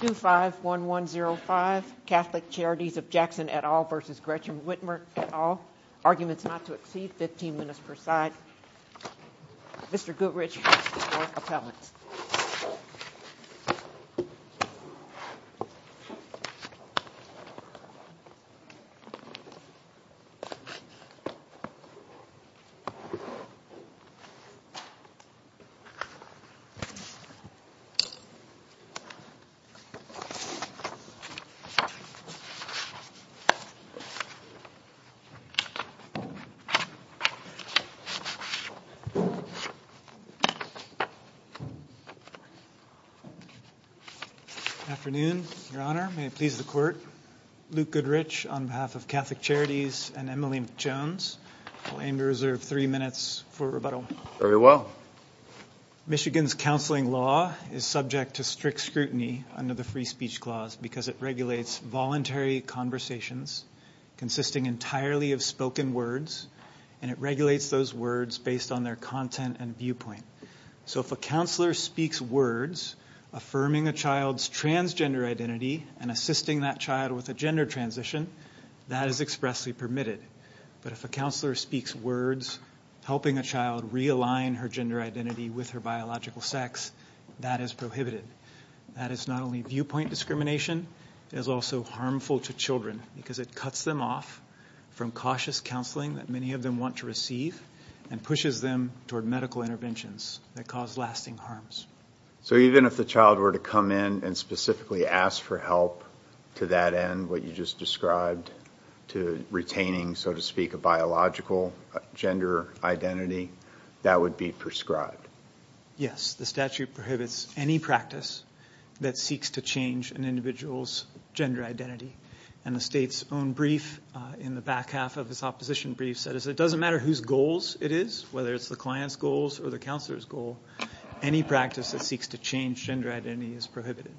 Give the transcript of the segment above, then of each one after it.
251105 Catholic Charities of Jackson et al. v. Gretchen Whitmer et al. Arguments not to exceed 15 minutes per side. Mr. Goodrich for appellants. Good afternoon, your honor. May it please the court. Luke Goodrich on behalf of Catholic Charities and Emily Jones. I'll aim to reserve three minutes for rebuttal. Very well. Michigan's counseling law is subject to strict scrutiny under the free speech clause because it regulates voluntary conversations consisting entirely of spoken words, and it regulates those words based on their content and viewpoint. So if a counselor speaks words affirming a child's transgender identity and assisting that child with a gender transition, that is expressly permitted. But if a counselor speaks words helping a child realign her gender identity with her biological sex, that is prohibited. That is not only viewpoint discrimination, it is also harmful to children because it cuts them off from cautious counseling that many of them want to receive and pushes them toward medical interventions that cause lasting harms. So even if the child were to come in and specifically ask for help to that end, what you just described, to retaining, so to speak, a biological gender identity, that would be prescribed? Yes. The statute prohibits any practice that seeks to change an individual's gender identity. And the state's own brief in the back half of its opposition brief said it doesn't matter whose goals it is, whether it's the client's goals or the counselor's goal, any practice that seeks to change gender identity is prohibited.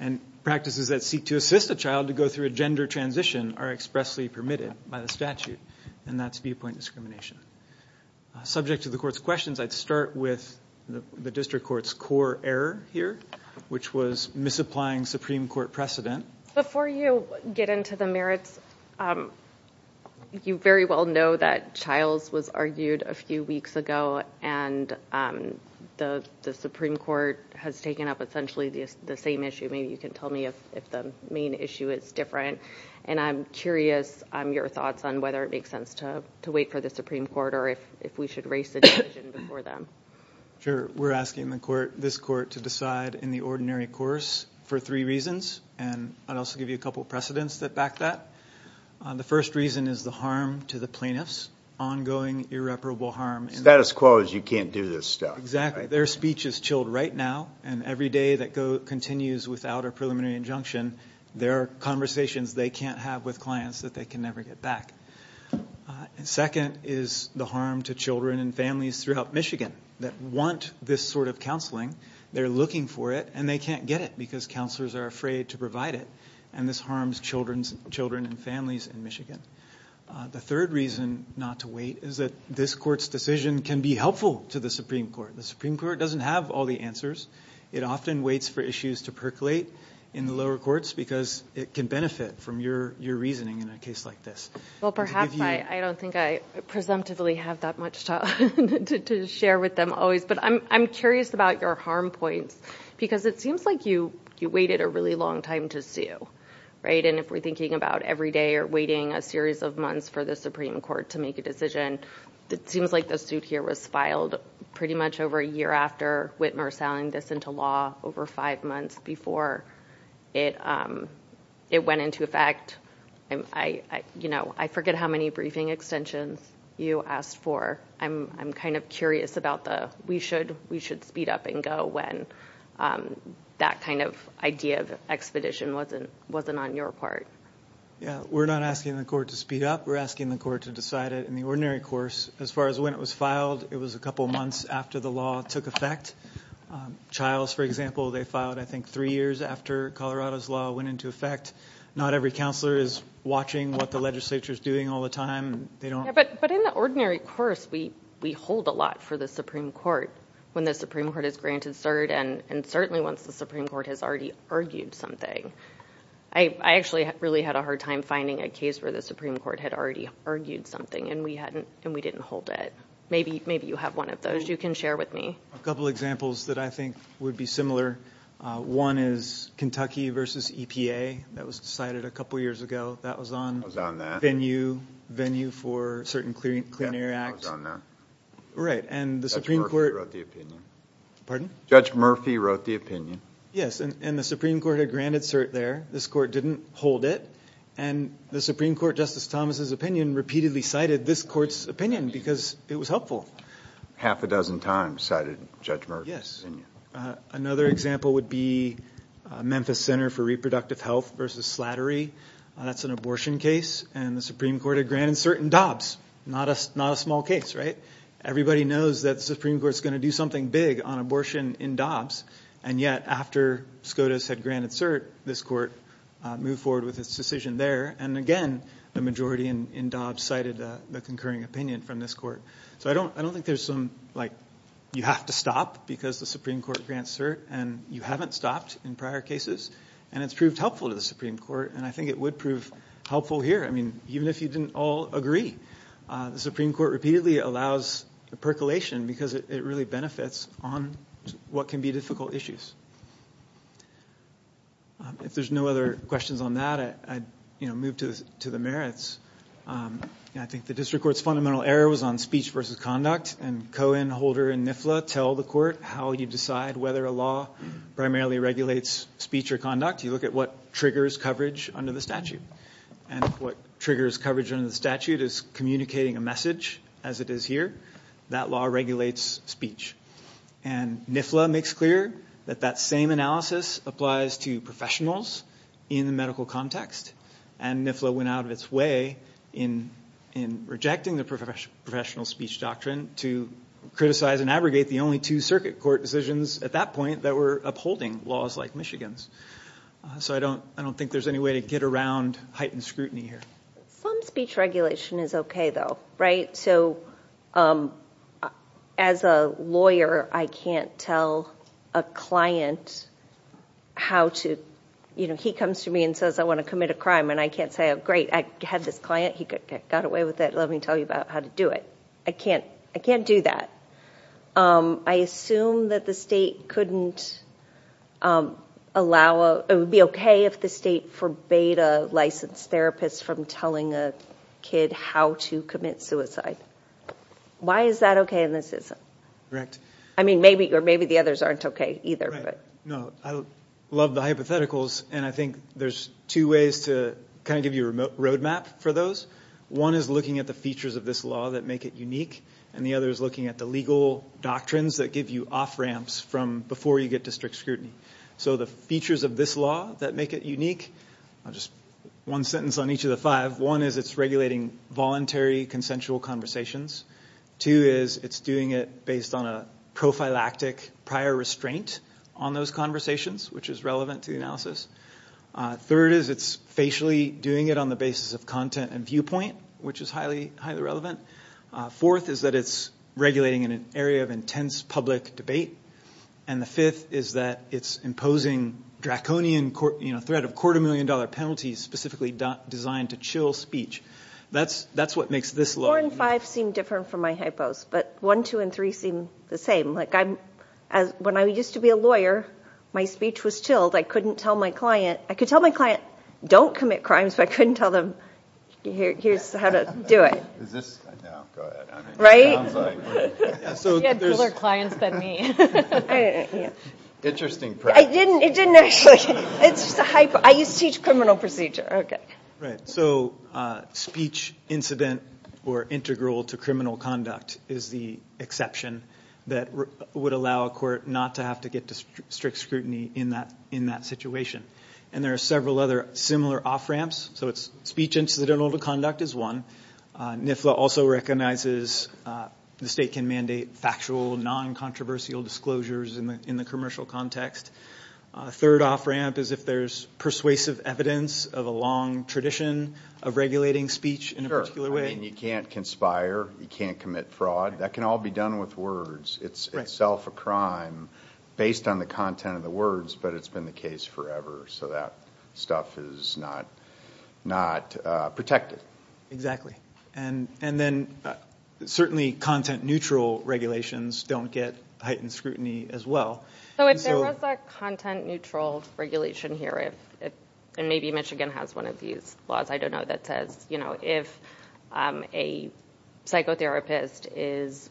And practices that seek to assist a child to go through a gender transition are expressly permitted by the statute, and that's viewpoint discrimination. Subject to the Court's questions, I'd start with the District Court's core error here, which was misapplying Supreme Court precedent. Before you get into the merits, you very well know that Childs was argued a few weeks ago and the Supreme Court has taken up essentially the same issue. Maybe you can tell me if the main issue is different. And I'm curious your thoughts on whether it makes sense to wait for the Supreme Court or if we should raise the decision before them. Sure. We're asking this Court to decide in the ordinary course for three reasons, and I'll also give you a couple of precedents that back that. The first reason is the harm to the plaintiffs, ongoing irreparable harm. Status quo is you can't do this stuff. Exactly. Their speech is chilled right now, and every day that continues without a preliminary injunction, there are conversations they can't have with clients that they can never get back. Second is the harm to children and families throughout Michigan that want this sort of counseling. They're looking for it, and they can't get it because counselors are afraid to provide it, and this harms children and families in Michigan. The third reason not to wait is that this Court's decision can be helpful to the Supreme Court. The Supreme Court doesn't have all the answers. It often waits for issues to percolate in the lower courts because it can benefit from your reasoning in a case like this. Well, perhaps. I don't think I presumptively have that much to share with them always, but I'm curious about your harm points because it seems like you waited a really long time to sue, right? If we're thinking about every day or waiting a series of months for the Supreme Court to make a decision, it seems like the suit here was filed pretty much over a year after Whitmer selling this into law over five months before it went into effect. I forget how many briefing extensions you asked for. I'm kind of curious about the, we should speed up and go when that kind of idea of expedition wasn't on your part. We're not asking the Court to speed up. We're asking the Court to decide it in the ordinary course. As far as when it was filed, it was for example, they filed I think three years after Colorado's law went into effect. Not every counselor is watching what the legislature is doing all the time. But in the ordinary course, we hold a lot for the Supreme Court when the Supreme Court is granted cert and certainly once the Supreme Court has already argued something. I actually really had a hard time finding a case where the Supreme Court had already argued something and we didn't hold it. Maybe you have one of those you can share with me. A couple of examples that I think would be similar. One is Kentucky v. EPA. That was cited a couple of years ago. That was on venue for certain clean air acts. Judge Murphy wrote the opinion. And the Supreme Court had granted cert there. This Court didn't hold it. And the Supreme Court, Justice Thomas' opinion, repeatedly cited this Court's opinion because it was helpful. Half a dozen times cited Judge Murphy's opinion. Another example would be Memphis Center for Reproductive Health v. Slattery. That's an abortion case. And the Supreme Court had granted cert in Dobbs. Not a small case, right? Everybody knows that the Supreme Court is going to do something big on abortion in Dobbs. And yet after SCOTUS had granted cert, this Court moved forward with its decision there. And again, the majority in Dobbs cited the concurring opinion from this Court. So I don't think there's some, like, you have to stop because the Supreme Court grants cert and you haven't stopped in prior cases. And it's proved helpful to the Supreme Court. And I think it would prove helpful here. Even if you didn't all agree, the Supreme Court repeatedly allows percolation because it really benefits on what can be difficult issues. If there's no other questions on that, I'd move to the merits. I think the District Court's fundamental error was on speech versus conduct. And Cohen, Holder, and Nifla tell the Court how you decide whether a law primarily regulates speech or conduct. You look at what triggers coverage under the statute. And what triggers coverage under the statute is communicating a message, as it is here. That law regulates speech. And Nifla makes clear that that same analysis applies to professionals in the medical context. And Nifla went out of its way in rejecting the professional speech doctrine to criticize and abrogate the only two circuit court decisions at that point that were upholding laws like Michigan's. So I don't think there's any way to get around heightened scrutiny here. Some speech regulation is okay, though, right? So as a lawyer, I can't tell a client how to, you know, he comes to me and says, I want to commit a crime. And I can't say, oh, great, I had this client. He got away with it. Let me tell you about how to do it. I can't do that. I assume that the state couldn't allow, it would be okay if the state forbade a licensed therapist from telling a kid how to commit suicide. Why is that okay and this isn't? Correct. I mean, maybe, or maybe the others aren't okay, either, but. No, I love the hypotheticals. And I think there's two ways to kind of give you a remote roadmap for those. One is looking at the features of this law that make it unique. And the other is looking at the legal doctrines that give you off ramps from before you get to strict and unique. I'll just, one sentence on each of the five. One is it's regulating voluntary consensual conversations. Two is it's doing it based on a prophylactic prior restraint on those conversations, which is relevant to the analysis. Third is it's facially doing it on the basis of content and viewpoint, which is highly, highly relevant. Fourth is that it's regulating in an area of intense public debate. And the fifth is that it's imposing draconian, you know, threat of quarter million dollar penalties specifically designed to chill speech. That's what makes this law. Four and five seem different from my hypos, but one, two, and three seem the same. Like, when I used to be a lawyer, my speech was chilled. I couldn't tell my client, I could tell my client, don't commit crimes, but I couldn't tell them, here's how to do it. Is this, no, go ahead. Right? Sounds like. You had cooler clients than me. I didn't, yeah. Interesting practice. I didn't, it didn't actually, it's just a hyper, I used to teach criminal procedure. Right, so speech incident or integral to criminal conduct is the exception that would allow a court not to have to get to strict scrutiny in that situation. And there are several other similar off-ramps, so it's speech incidental to conduct is one. NIFLA also recognizes the fact that they can mandate factual, non-controversial disclosures in the commercial context. A third off-ramp is if there's persuasive evidence of a long tradition of regulating speech in a particular way. Sure, I mean, you can't conspire, you can't commit fraud. That can all be done with words. It's itself a crime based on the content of the words, but it's been the case forever, so that stuff is not protected. Exactly, and then certainly content neutral regulations don't get heightened scrutiny as well. So if there was a content neutral regulation here, and maybe Michigan has one of these laws, I don't know, that says if a psychotherapist is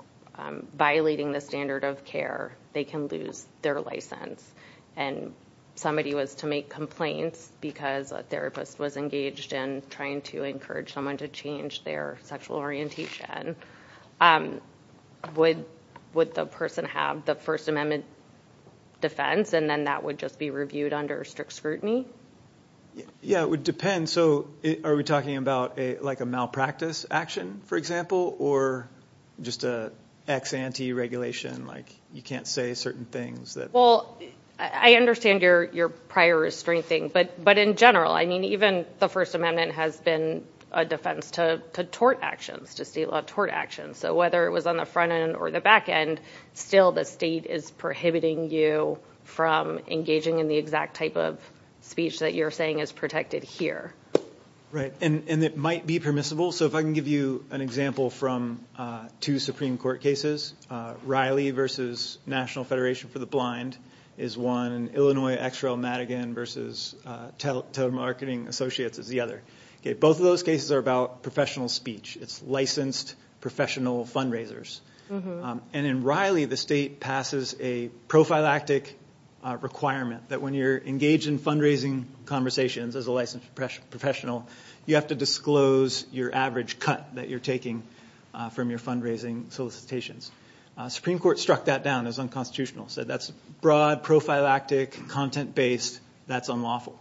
violating the standard of care, they can lose their license. And somebody was to make complaints because a therapist was engaged in trying to encourage someone to change their sexual orientation, would the person have the First Amendment defense, and then that would just be reviewed under strict scrutiny? Yeah, it would depend. So are we talking about a malpractice action, for example, or just an ex-ante regulation, like you can't say certain things that... Well, I understand your prior restraint thing, but in general, I mean, even the First Amendment has been a defense to tort actions, to state law tort actions. So whether it was on the front end or the back end, still the state is prohibiting you from engaging in the exact type of speech that you're saying is protected here. Right, and it might be permissible. So if I can give you an example from two Supreme Courts, the National Federation for the Blind is one, and Illinois XRL Madigan versus Telemarketing Associates is the other. Both of those cases are about professional speech. It's licensed professional fundraisers. And in Riley, the state passes a prophylactic requirement that when you're engaged in fundraising conversations as a licensed professional, you have to disclose your average cut that you're taking from your fundraising solicitations. Supreme Court struck that down as unconstitutional, said that's broad, prophylactic, content-based, that's unlawful.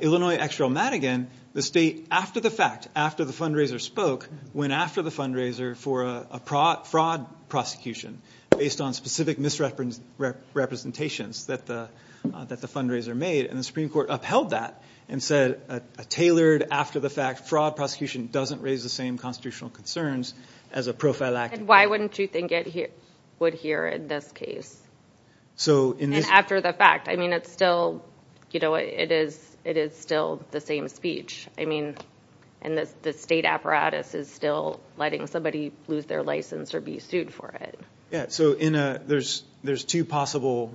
Illinois XRL Madigan, the state, after the fact, after the fundraiser spoke, went after the fundraiser for a fraud prosecution based on specific misrepresentations that the fundraiser made. And the Supreme Court upheld that and said a tailored, after-the-fact fraud prosecution doesn't raise the same constitutional concerns as a prophylactic. And why wouldn't you think it would here in this case? And after the fact. I mean, it is still the same speech. I mean, and the state apparatus is still letting somebody lose their license or be sued for it. Yeah, so there's two possible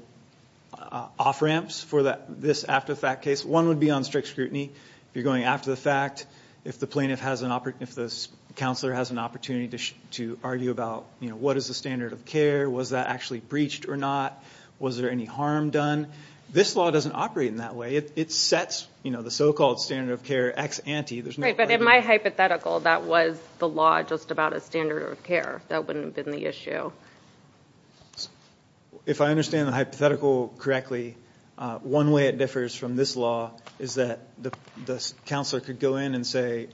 off-ramps for this after-the-fact case. One would be on strict scrutiny. If you're going after the fact, if the plaintiff has an, if the counselor has an opportunity to argue about, you know, what is the standard of care? Was that actually breached or not? Was there any harm done? This law doesn't operate in that way. It sets, you know, the so-called standard of care ex-ante. Right, but in my hypothetical, that was the law just about a standard of care. That wouldn't have been the issue. If I understand the hypothetical correctly, one way it differs from this law is that the counselor could go in and say,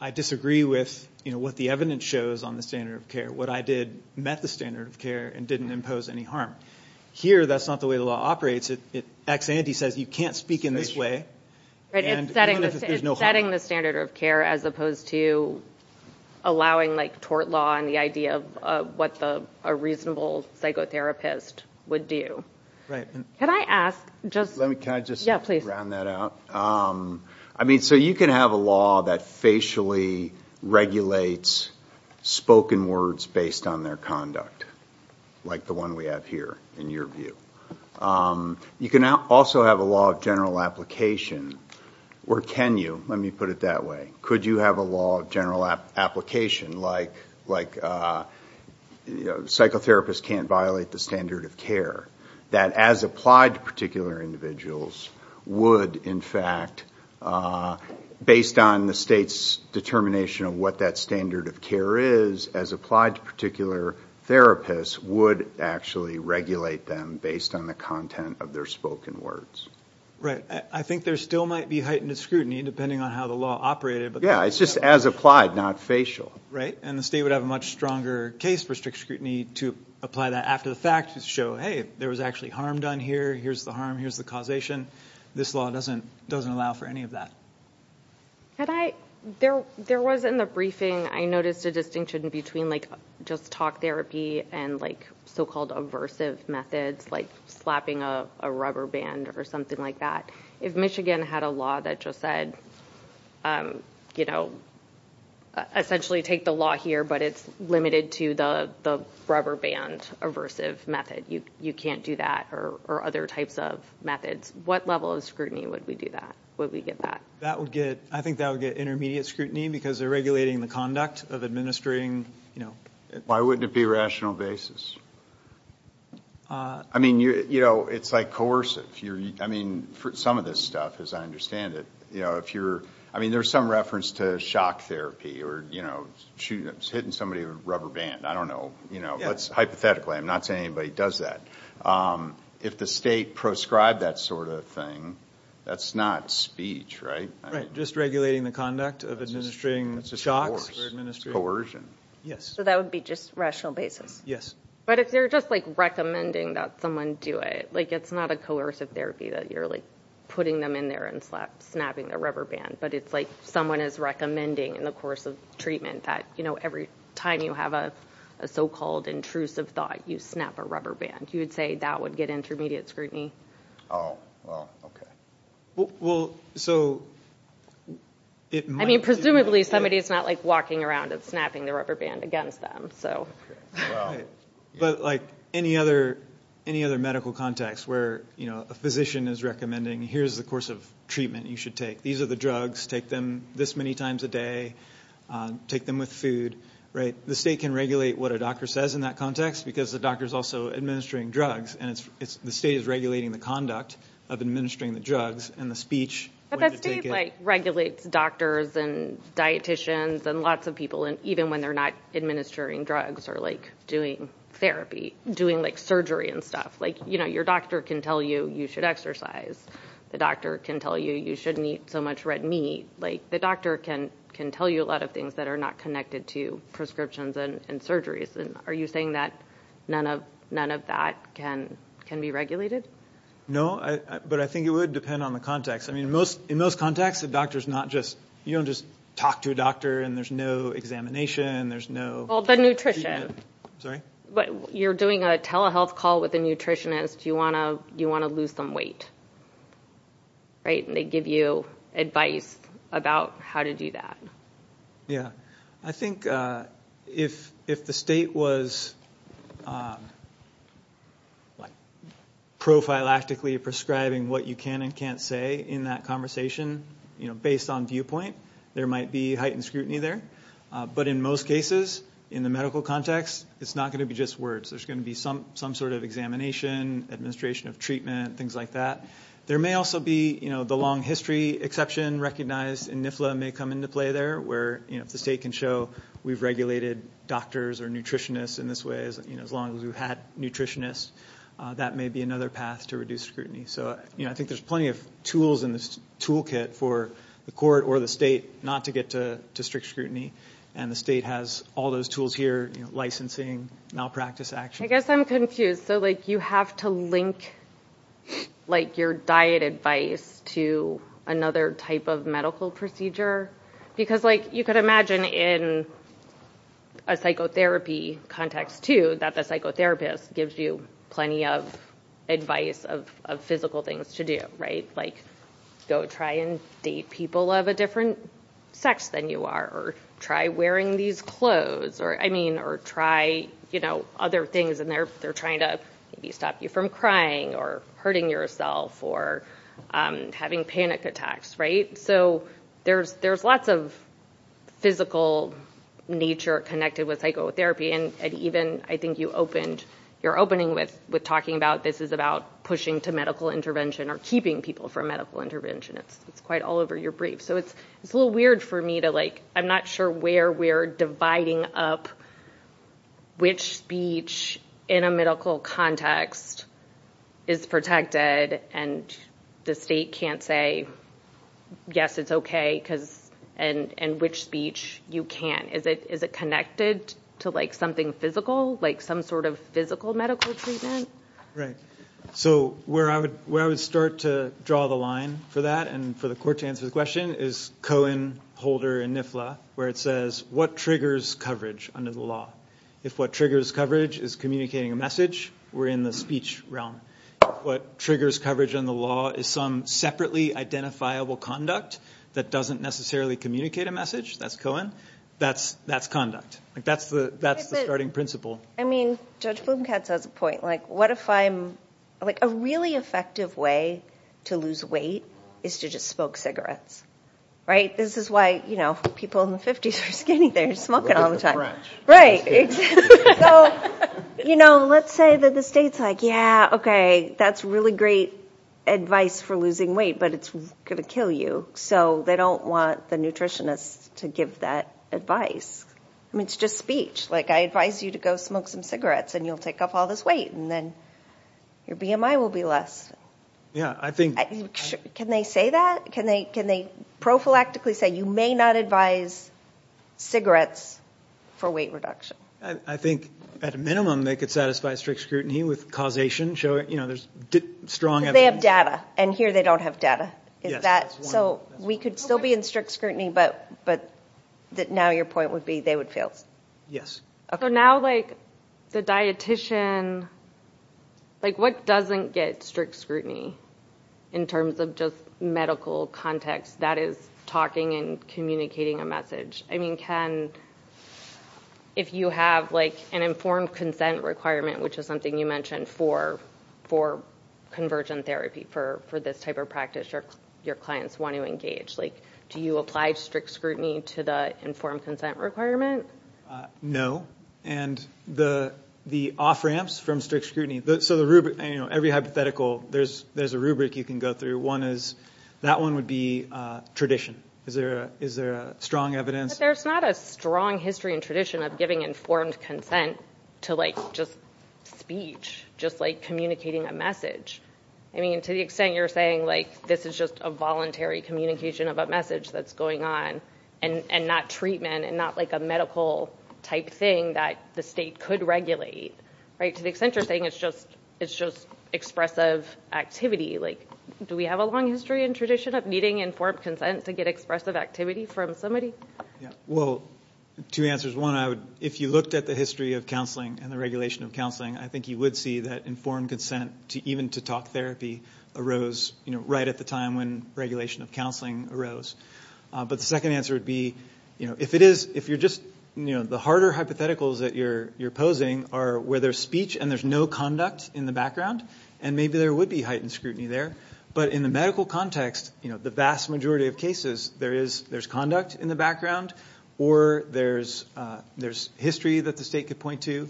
I disagree with, you know, what the evidence shows on the standard of care. What I did met the standard of care and didn't impose any harm. Here, that's not the way the law operates. It ex-ante says you can't speak in this way. Right, it's setting the standard of care as opposed to allowing like tort law and the idea of what a reasonable psychotherapist would do. Right. Can I ask just... Let me, can I just... Yeah, please. Can I round that out? I mean, so you can have a law that facially regulates spoken words based on their conduct, like the one we have here, in your view. You can also have a law of general application where can you, let me put it that way, could you have a law of general application like, like, you know, psychotherapists can't violate the standard of care, that as applied to particular individuals would, in fact, based on the state's determination of what that standard of care is, as applied to particular therapists, would actually regulate them based on the content of their spoken words. Right. I think there still might be heightened scrutiny depending on how the law operated, but... Yeah, it's just as applied, not facial. Right, and the state would have a much stronger case for strict scrutiny to apply that after the fact to show, hey, there was actually harm done here, here's the harm, here's the causation. This law doesn't allow for any of that. Had I, there was in the briefing, I noticed a distinction between like just talk therapy and like so-called aversive methods, like slapping a rubber band or something like that. If Michigan had a law that just said, you know, essentially take the law here, but it's limited to the rubber band aversive method, you can't do that, or other types of methods, what level of scrutiny would we do that? Would we get that? That would get, I think that would get intermediate scrutiny because they're regulating the conduct of administering, you know... Why wouldn't it be rational basis? I mean, you know, it's like coercive. I mean, for some of this stuff, as I understand it, you know, if you're, I mean, there's some reference to shock therapy or, you know, hitting somebody with a rubber band, I don't know, you know, that's hypothetically, I'm not saying anybody does that. If the state proscribed that sort of thing, that's not speech, right? Right, just regulating the conduct of administering shocks or administering... Coercion. Yes. So that would be just rational basis? Yes. But if they're just like recommending that someone do it, like it's not a coercive therapy that you're like putting them in there and snapping the rubber band, but it's like someone is recommending in the course of treatment that, you know, every time you have a so-called intrusive thought, you snap a rubber band. You would say that would get intermediate scrutiny. Oh, well, okay. Well, so it might... I mean, presumably somebody is not like walking around and snapping the rubber band against them, so... Right, but like any other medical context where, you know, a physician is recommending, here's the course of treatment you should take. These are the drugs, take them this many times a day, take them with food, right? The state can regulate what a doctor says in that context because the doctor is also administering drugs and the state is regulating the conduct of administering the drugs and the speech when you take it... But the state like regulates doctors and dieticians and lots of people and even when they're not administering drugs or like doing therapy, doing like surgery and stuff. Like, you know, the doctor can tell you, you should exercise. The doctor can tell you, you shouldn't eat so much red meat. Like, the doctor can tell you a lot of things that are not connected to prescriptions and surgeries. And are you saying that none of that can be regulated? No, but I think it would depend on the context. I mean, in most contexts, the doctor is not just... You don't just talk to a doctor and there's no examination, there's no treatment. Well, the nutrition. Sorry? You're doing a telehealth call with a nutritionist, you want to lose some weight, right? And they give you advice about how to do that. Yeah. I think if the state was like prophylactically prescribing what you can and can't say in that conversation, you know, based on viewpoint, there might be heightened scrutiny there. But in most cases, in the medical context, it's not going to be just words. There's going to be some sort of examination, administration of treatment, things like that. There may also be, you know, the long history exception recognized in NIFLA may come into play there where, you know, if the state can show we've regulated doctors or nutritionists in this way, you know, as long as we've had nutritionists, that may be another path to reduce scrutiny. So, you know, I think there's plenty of tools in this toolkit for the court or the state not to get to strict scrutiny. And the state has all those tools here, you know, licensing, malpractice action. I guess I'm confused. So, like, you have to link, like, your diet advice to another type of medical procedure? Because, like, you could imagine in a psychotherapy context, too, that the psychotherapist gives you plenty of advice of physical things to do, right? Like, go try and date people of a different sex than you are, or try wearing these clothes, or, I mean, or try, you know, other things, and they're trying to maybe stop you from crying or hurting yourself or having panic attacks, right? So there's lots of physical nature connected with psychotherapy, and even, I think, you opened, you're opening with talking about this is about pushing to medical intervention or keeping people from medical intervention It's quite all over your brief. So it's a little weird for me to, like, I'm not sure where we're dividing up which speech in a medical context is protected, and the state can't say, yes, it's okay, and which speech you can't. Is it connected to, like, something physical, like some sort of physical medical treatment? Right. So where I would start to draw the line for that and for the court to answer the question is Cohen, Holder, and Nifla, where it says, what triggers coverage under the law? If what triggers coverage is communicating a message, we're in the speech realm. What triggers coverage under the law is some separately identifiable conduct that doesn't necessarily communicate a message. That's Cohen. That's conduct. Like, that's the starting principle. I mean, Judge Bloomcat's has a point. Like, what if I'm, like, a really effective way to lose weight is to just smoke cigarettes, right? This is why, you know, people in the 50s are skinny. They're smoking all the time, right? So, you know, let's say that the state's like, yeah, okay, that's really great advice for losing weight, but it's going to kill you. So they don't want the nutritionists to give that advice. I mean, it's just speech. Like, I advise you to go smoke some cigarettes and you'll take off all this weight and then your BMI will be less. Yeah, I think. Can they say that? Can they prophylactically say you may not advise cigarettes for weight reduction? I think at a minimum they could satisfy strict scrutiny with causation showing, you know, there's strong evidence. They have data and here they don't have data. So we could still be in strict scrutiny, but that now your point would be they would fail. Yes. So now, like, the dietitian, like, what doesn't get strict scrutiny in terms of just medical context? That is talking and communicating a message. I mean, can, if you have, like, an informed consent requirement, which is something you mentioned for convergent therapy, for this type of practice, your clients want to engage. Like, do you apply strict scrutiny to the informed consent requirement? No. And the off ramps from strict scrutiny, so the rubric, you know, every hypothetical, there's a rubric you can go through. One is, that one would be tradition. Is there a strong evidence? There's not a strong history and tradition of giving informed consent to, like, just speech, just, like, communicating a message. I mean, to the extent you're saying, like, this is just a voluntary communication of a message that's going on and not treatment and not, like, a medical type thing that the state could regulate, right, to the extent you're saying it's just expressive activity. Like, do we have a long history and tradition of needing informed consent to get expressive activity from somebody? Yeah. Well, two answers. One, I would, if you looked at the history of counseling and the regulation of counseling, I think you would see that informed consent to even to talk therapy arose, you know, right at the time when regulation of counseling arose. But the second answer would be, you know, if it is, if you're just, you know, the harder hypotheticals that you're posing are where there's speech and there's no conduct in the background, and maybe there would be heightened scrutiny there. But in the medical context, you know, the vast majority of cases, there is, there's conduct in the background or there's history that the state could point to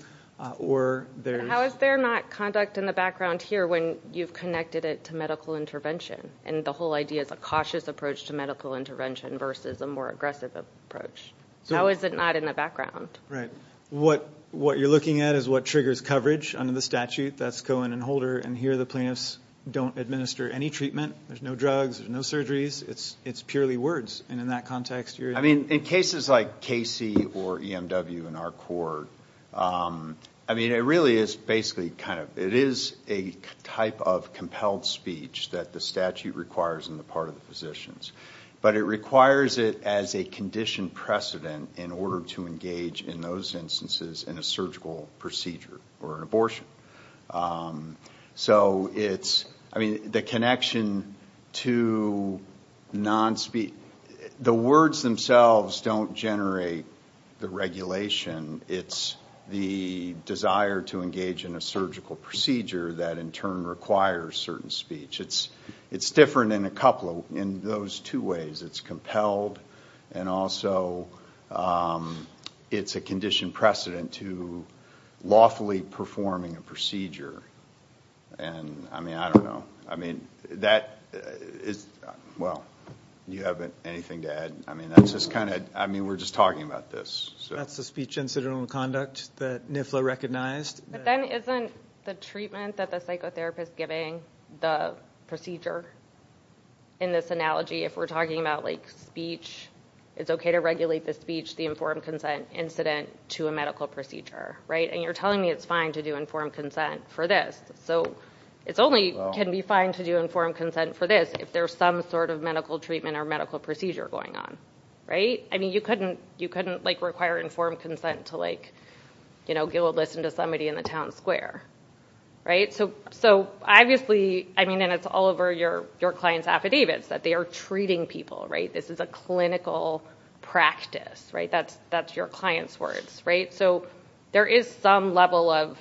or there's... How is there not conduct in the background here when you've connected it to medical intervention? And the whole idea is a cautious approach to medical intervention versus a more aggressive approach. So how is it not in the background? Right. What you're looking at is what triggers coverage under the statute. That's Cohen and Holder. And here the plaintiffs don't administer any treatment. There's no drugs. There's no surgeries. It's purely words. And in that context, you're... I mean, in cases like Casey or EMW in our court, I mean, it really is basically kind of, it is a type of compelled speech that the statute requires on the part of the physicians. But it requires it as a conditioned precedent in order to engage in those instances in a surgical procedure or an abortion. So it's, I mean, the connection to non-speech, the words themselves don't generate the regulation it's the desire to engage in a surgical procedure that in turn requires certain speech. It's different in a couple of, in those two ways. It's compelled and also it's a conditioned precedent to lawfully performing a procedure. And I mean, I don't know. I mean, that is, well, you have anything to add? I mean, that's just kind of, I mean, we're just talking about this. So that's the speech incidental conduct that NIFLA recognized. But then isn't the treatment that the psychotherapist giving the procedure in this analogy, if we're talking about like speech, it's okay to regulate the speech, the informed consent incident to a medical procedure, right? And you're telling me it's fine to do informed consent for this. So it's only can be fine to do informed consent for this if there's some sort of medical treatment or medical procedure going on, right? I mean, you couldn't, you couldn't like require informed consent to like, you know, give a listen to somebody in the town square, right? So, so obviously, I mean, and it's all over your, your client's affidavits that they are treating people, right? This is a clinical practice, right? That's, that's your client's words, right? So there is some level of,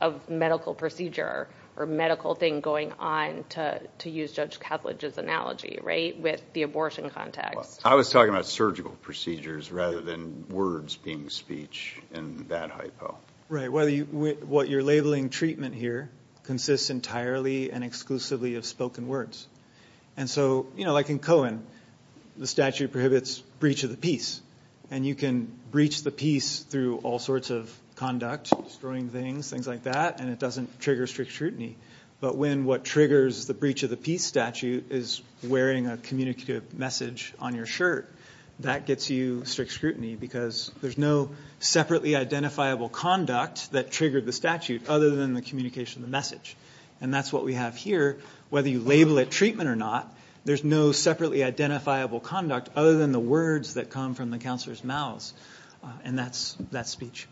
of medical procedure or medical thing going on to, to use Judge Kavlage's analogy, right? With the abortion context. I was talking about surgical procedures rather than words being speech in that hypo. Right, whether you, what you're labeling treatment here consists entirely and exclusively of spoken words. And so, you know, like in Cohen, the statute prohibits breach of the peace, and you can breach the peace through all sorts of conduct, destroying things, things like that, and it doesn't trigger strict scrutiny. But when what triggers the breach of the peace statute is wearing a communicative message on your shirt, that gets you strict scrutiny because there's no separately identifiable conduct that triggered the statute other than the communication of the message. And that's what we have here, whether you label it treatment or not, there's no separately identifiable conduct other than the words that come from the counselor's mouths. And that's, that's speech.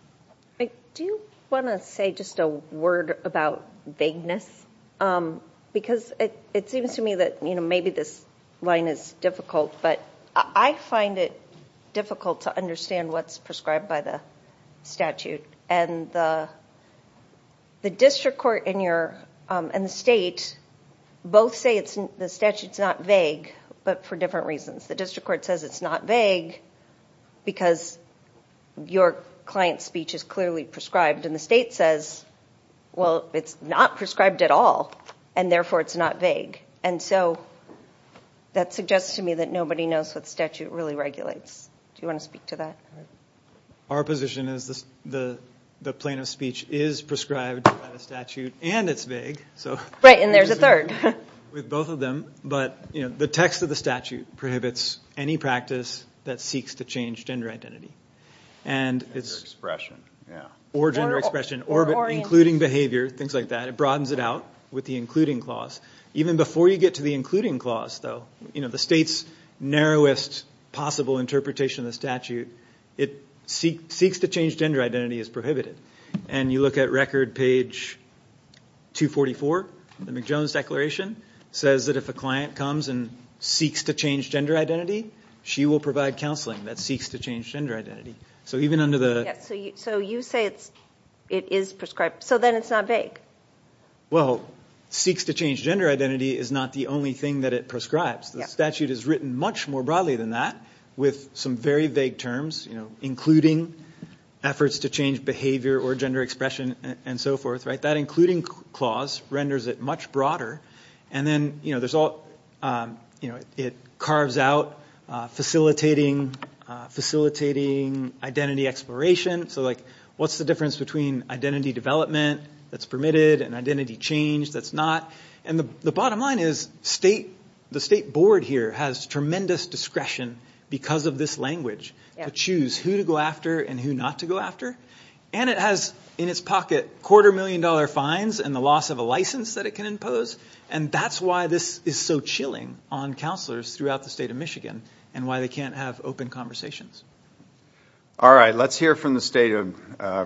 Do you want to say just a word about vagueness? Because it, it seems to me that, you know, maybe this line is difficult, but I find it difficult to understand what's prescribed by the statute. And the, the district court in your, in the state, both say it's the statute's not vague, but for different reasons. The district court says it's not vague because your client's speech is clearly prescribed, and the state says, well, it's not prescribed at all, and therefore it's not vague. And so that suggests to me that nobody knows what statute really regulates. Do you want to speak to that? Our position is the, the plaintiff's speech is prescribed by the statute, and it's vague, so. Right, and there's a third. With both of them. But, you know, the text of the statute prohibits any practice that seeks to change gender identity. And it's, or gender expression, or including behavior, things like that. It broadens it out with the including clause. Even before you get to the including clause, though, you know, the state's narrowest possible interpretation of the statute, it seeks to change gender identity is prohibited. And you look at record page 244, the McJones Declaration, says that if a client comes and seeks to change gender identity, she will provide counseling that seeks to change gender identity. So even under the. So you say it's, it is prescribed. So then it's not vague. Well, seeks to change gender identity is not the only thing that it prescribes. The statute is written much more broadly than that, with some very vague terms, you know, including efforts to change behavior or gender expression, and so forth. Right, that including clause renders it much broader. And then, you know, there's all, you know, it carves out facilitating identity exploration. So, like, what's the difference between identity development that's permitted and identity change that's not? And the bottom line is state, the state board here has tremendous discretion because of this language to choose who to go after and who not to go after. And it has in its pocket quarter million dollar fines and the loss of a license that it can impose. And that's why this is so chilling on counselors throughout the state of Michigan and why they can't have open conversations. All right, let's hear from the state of,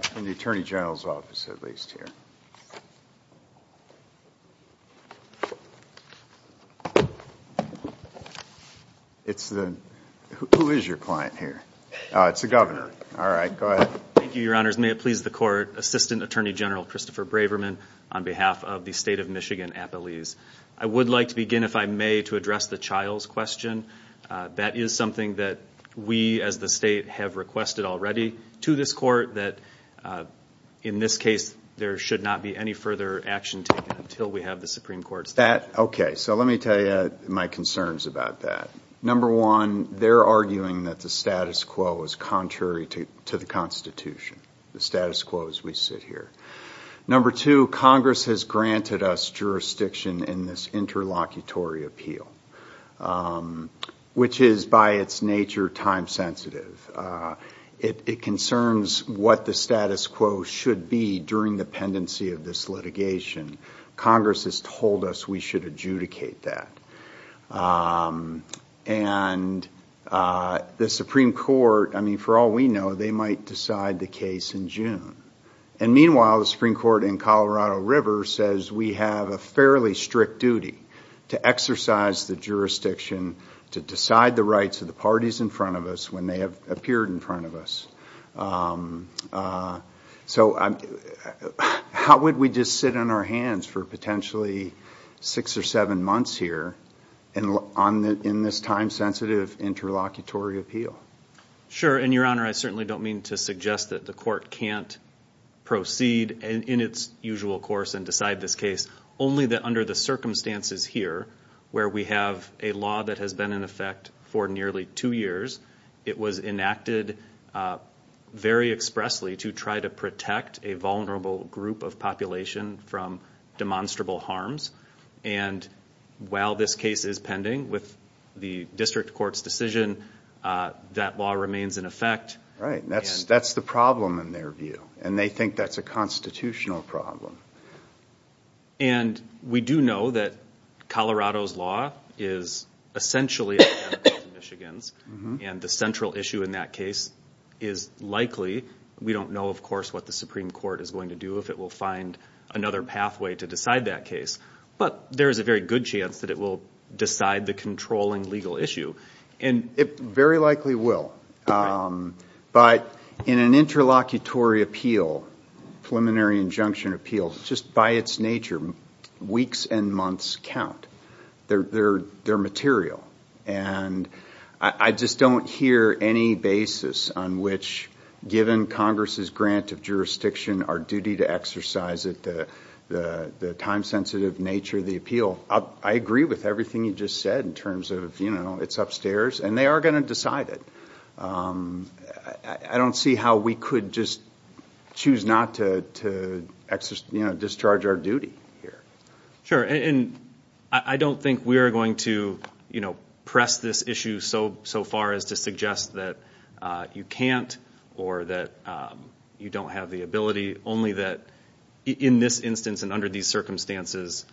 from the Attorney General's office at least here. It's the, who is your client here? It's the governor. All right, go ahead. Thank you, your honors. May it please the court. Assistant Attorney General Christopher Braverman on behalf of the state of Michigan at Belize. I would like to begin, if I may, to address the child's question. That is something that we as the state have requested already to this court that in this case, there should not be any further action taken until we have the Supreme Court. That, okay, so let me tell you my concerns about that. Number one, they're arguing that the status quo is contrary to the Constitution, the status quo as we sit here. Number two, Congress has granted us jurisdiction in this interlocutory appeal, which is by its nature time sensitive. It concerns what the status quo should be during the pendency of this litigation. Congress has told us we should adjudicate that. And the Supreme Court, I mean, for all we know, they might decide the case in June. And meanwhile, the Supreme Court in Colorado River says we have a fairly strict duty to exercise the jurisdiction to decide the rights of the parties in front of us when they have appeared in front of us. So how would we just sit on our hands for potentially six or seven months here in this time sensitive interlocutory appeal? Sure. And Your Honor, I certainly don't mean to suggest that the court can't proceed in its usual course and decide this case. Only that under the circumstances here where we have a law that has been in effect for nearly two years, it was enacted very expressly to try to protect a vulnerable group of population from demonstrable harms. And while this case is pending with the district court's decision, that law remains in effect. Right. That's the problem in their view. And they think that's a constitutional problem. And we do know that Colorado's law is essentially identical to Michigan's. And the central issue in that case is likely, we don't know, of course, what the Supreme Court is going to do if it will find another pathway to decide that case. But there is a very good chance that it will decide the controlling legal issue. And it very likely will. But in an interlocutory appeal, preliminary injunction appeal, just by its nature, weeks and months count. They're material. And I just don't hear any basis on which, given Congress's grant of jurisdiction, our duty to exercise it, the time sensitive nature of the appeal. I agree with everything you just said in terms of it's upstairs. And they are going to decide it. I don't see how we could just choose not to discharge our duty here. Sure. And I don't think we are going to press this issue so far as to suggest that you can't or that you don't have the ability. Only that in this instance and under these circumstances,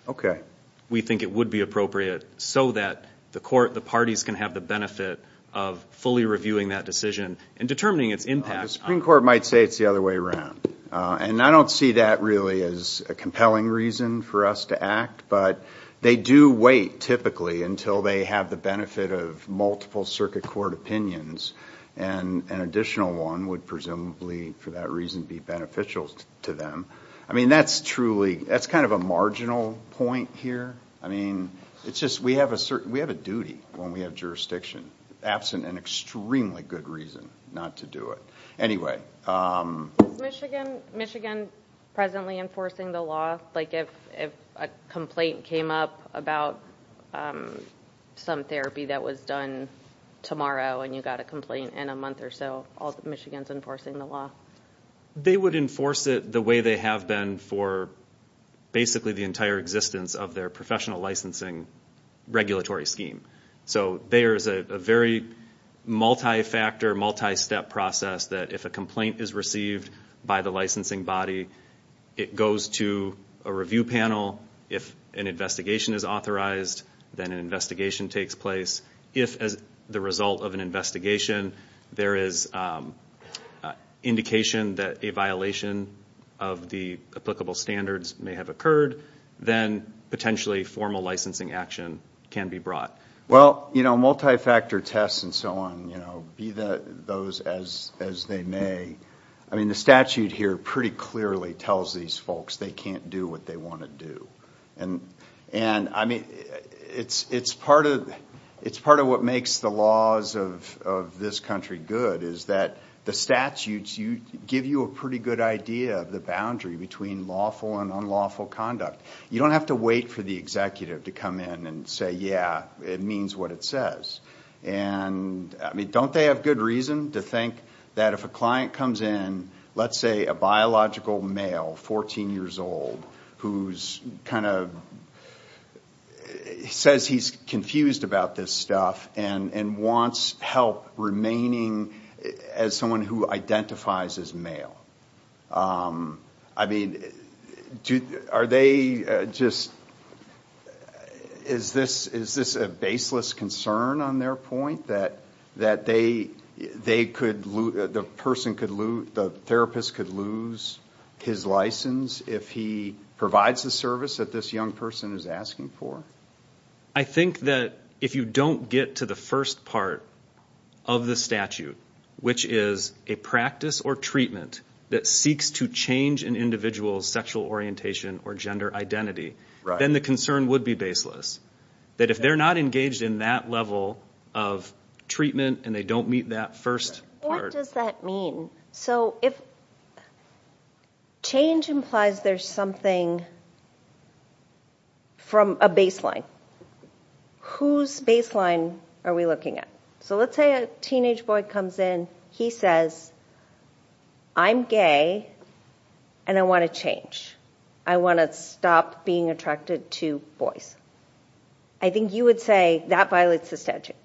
we think it would be appropriate so that the court, the parties, can have the benefit of fully reviewing that decision and determining its impact. The Supreme Court might say it's the other way around. And I don't see that really as a compelling reason for us to act. But they do wait, typically, until they have the benefit of multiple circuit court opinions. And an additional one would presumably, for that reason, be beneficial to them. I mean, that's truly, that's kind of a marginal point here. I mean, it's just, we have a duty when we have jurisdiction. Absent an extremely good reason not to do it. Anyway. Is Michigan presently enforcing the law? Like if a complaint came up about some therapy that was done tomorrow and you got a complaint in a month or so, Michigan's enforcing the law. They would enforce it the way they have been for basically the entire existence of their professional licensing regulatory scheme. So there's a very multi-factor, multi-step process that if a complaint is received by the licensing body, it goes to a review panel. If an investigation is authorized, then an investigation takes place. If, as the result of an investigation, there is indication that a violation of the applicable standards may have occurred, then potentially formal licensing action can be brought. Well, you know, multi-factor tests and so on, you know, be those as they may. I mean, the statute here pretty clearly tells these folks they can't do what they want to do. And I mean, it's part of what makes the laws of this country good is that the statutes give you a pretty good idea of the boundary between lawful and unlawful conduct. You don't have to wait for the executive to come in and say, yeah, it means what it says. And I mean, don't they have good reason to think that if a client comes in, let's say a biological male, 14 years old, who says he's confused about this stuff and wants help remaining as someone who identifies as male. I mean, are they just, is this a baseless concern on their point, that the therapist could lose his license if he provides the service that this young person is asking for? I think that if you don't get to the first part of the statute, which is a practice or treatment that seeks to change an individual's sexual orientation or gender identity, then the concern would be baseless. That if they're not engaged in that level of treatment and they don't meet that first part. What does that mean? So if change implies there's something from a baseline, whose baseline are we looking at? So let's say a teenage boy comes in, he says, I'm gay and I want to change. I want to stop being attracted to boys. I think you would say that violates the statute.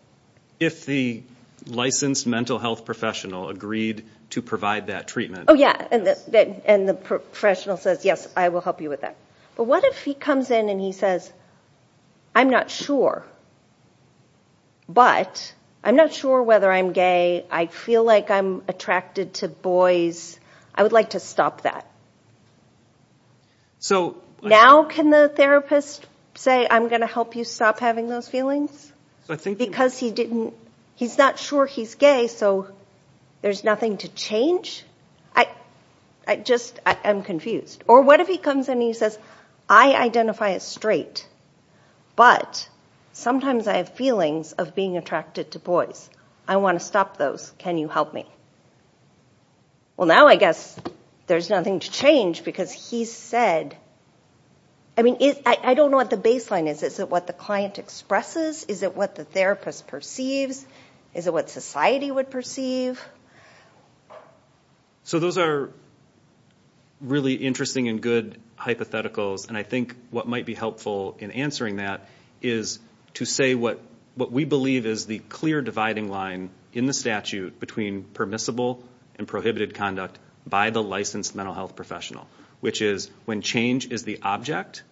If the licensed mental health professional agreed to provide that treatment. Oh yeah, and the professional says, yes, I will help you with that. But what if he comes in and he says, I'm not sure, but I'm not sure whether I'm gay. I feel like I'm attracted to boys. I would like to stop that. Now can the therapist say, I'm going to help you stop having those feelings? Because he's not sure he's gay, so there's nothing to change? I just am confused. Or what if he comes in and he says, I identify as straight, but sometimes I have feelings of being attracted to boys. I want to stop those. Can you help me? Well, now I guess there's nothing to change because he said, I mean, I don't know what the baseline is. Is it what the client expresses? Is it what the therapist perceives? Is it what society would perceive? So those are really interesting and good hypotheticals. And I think what might be helpful in answering that is to say what we believe is the clear dividing line in the statute between permissible and prohibited conduct by the licensed mental health professional, which is when change is the object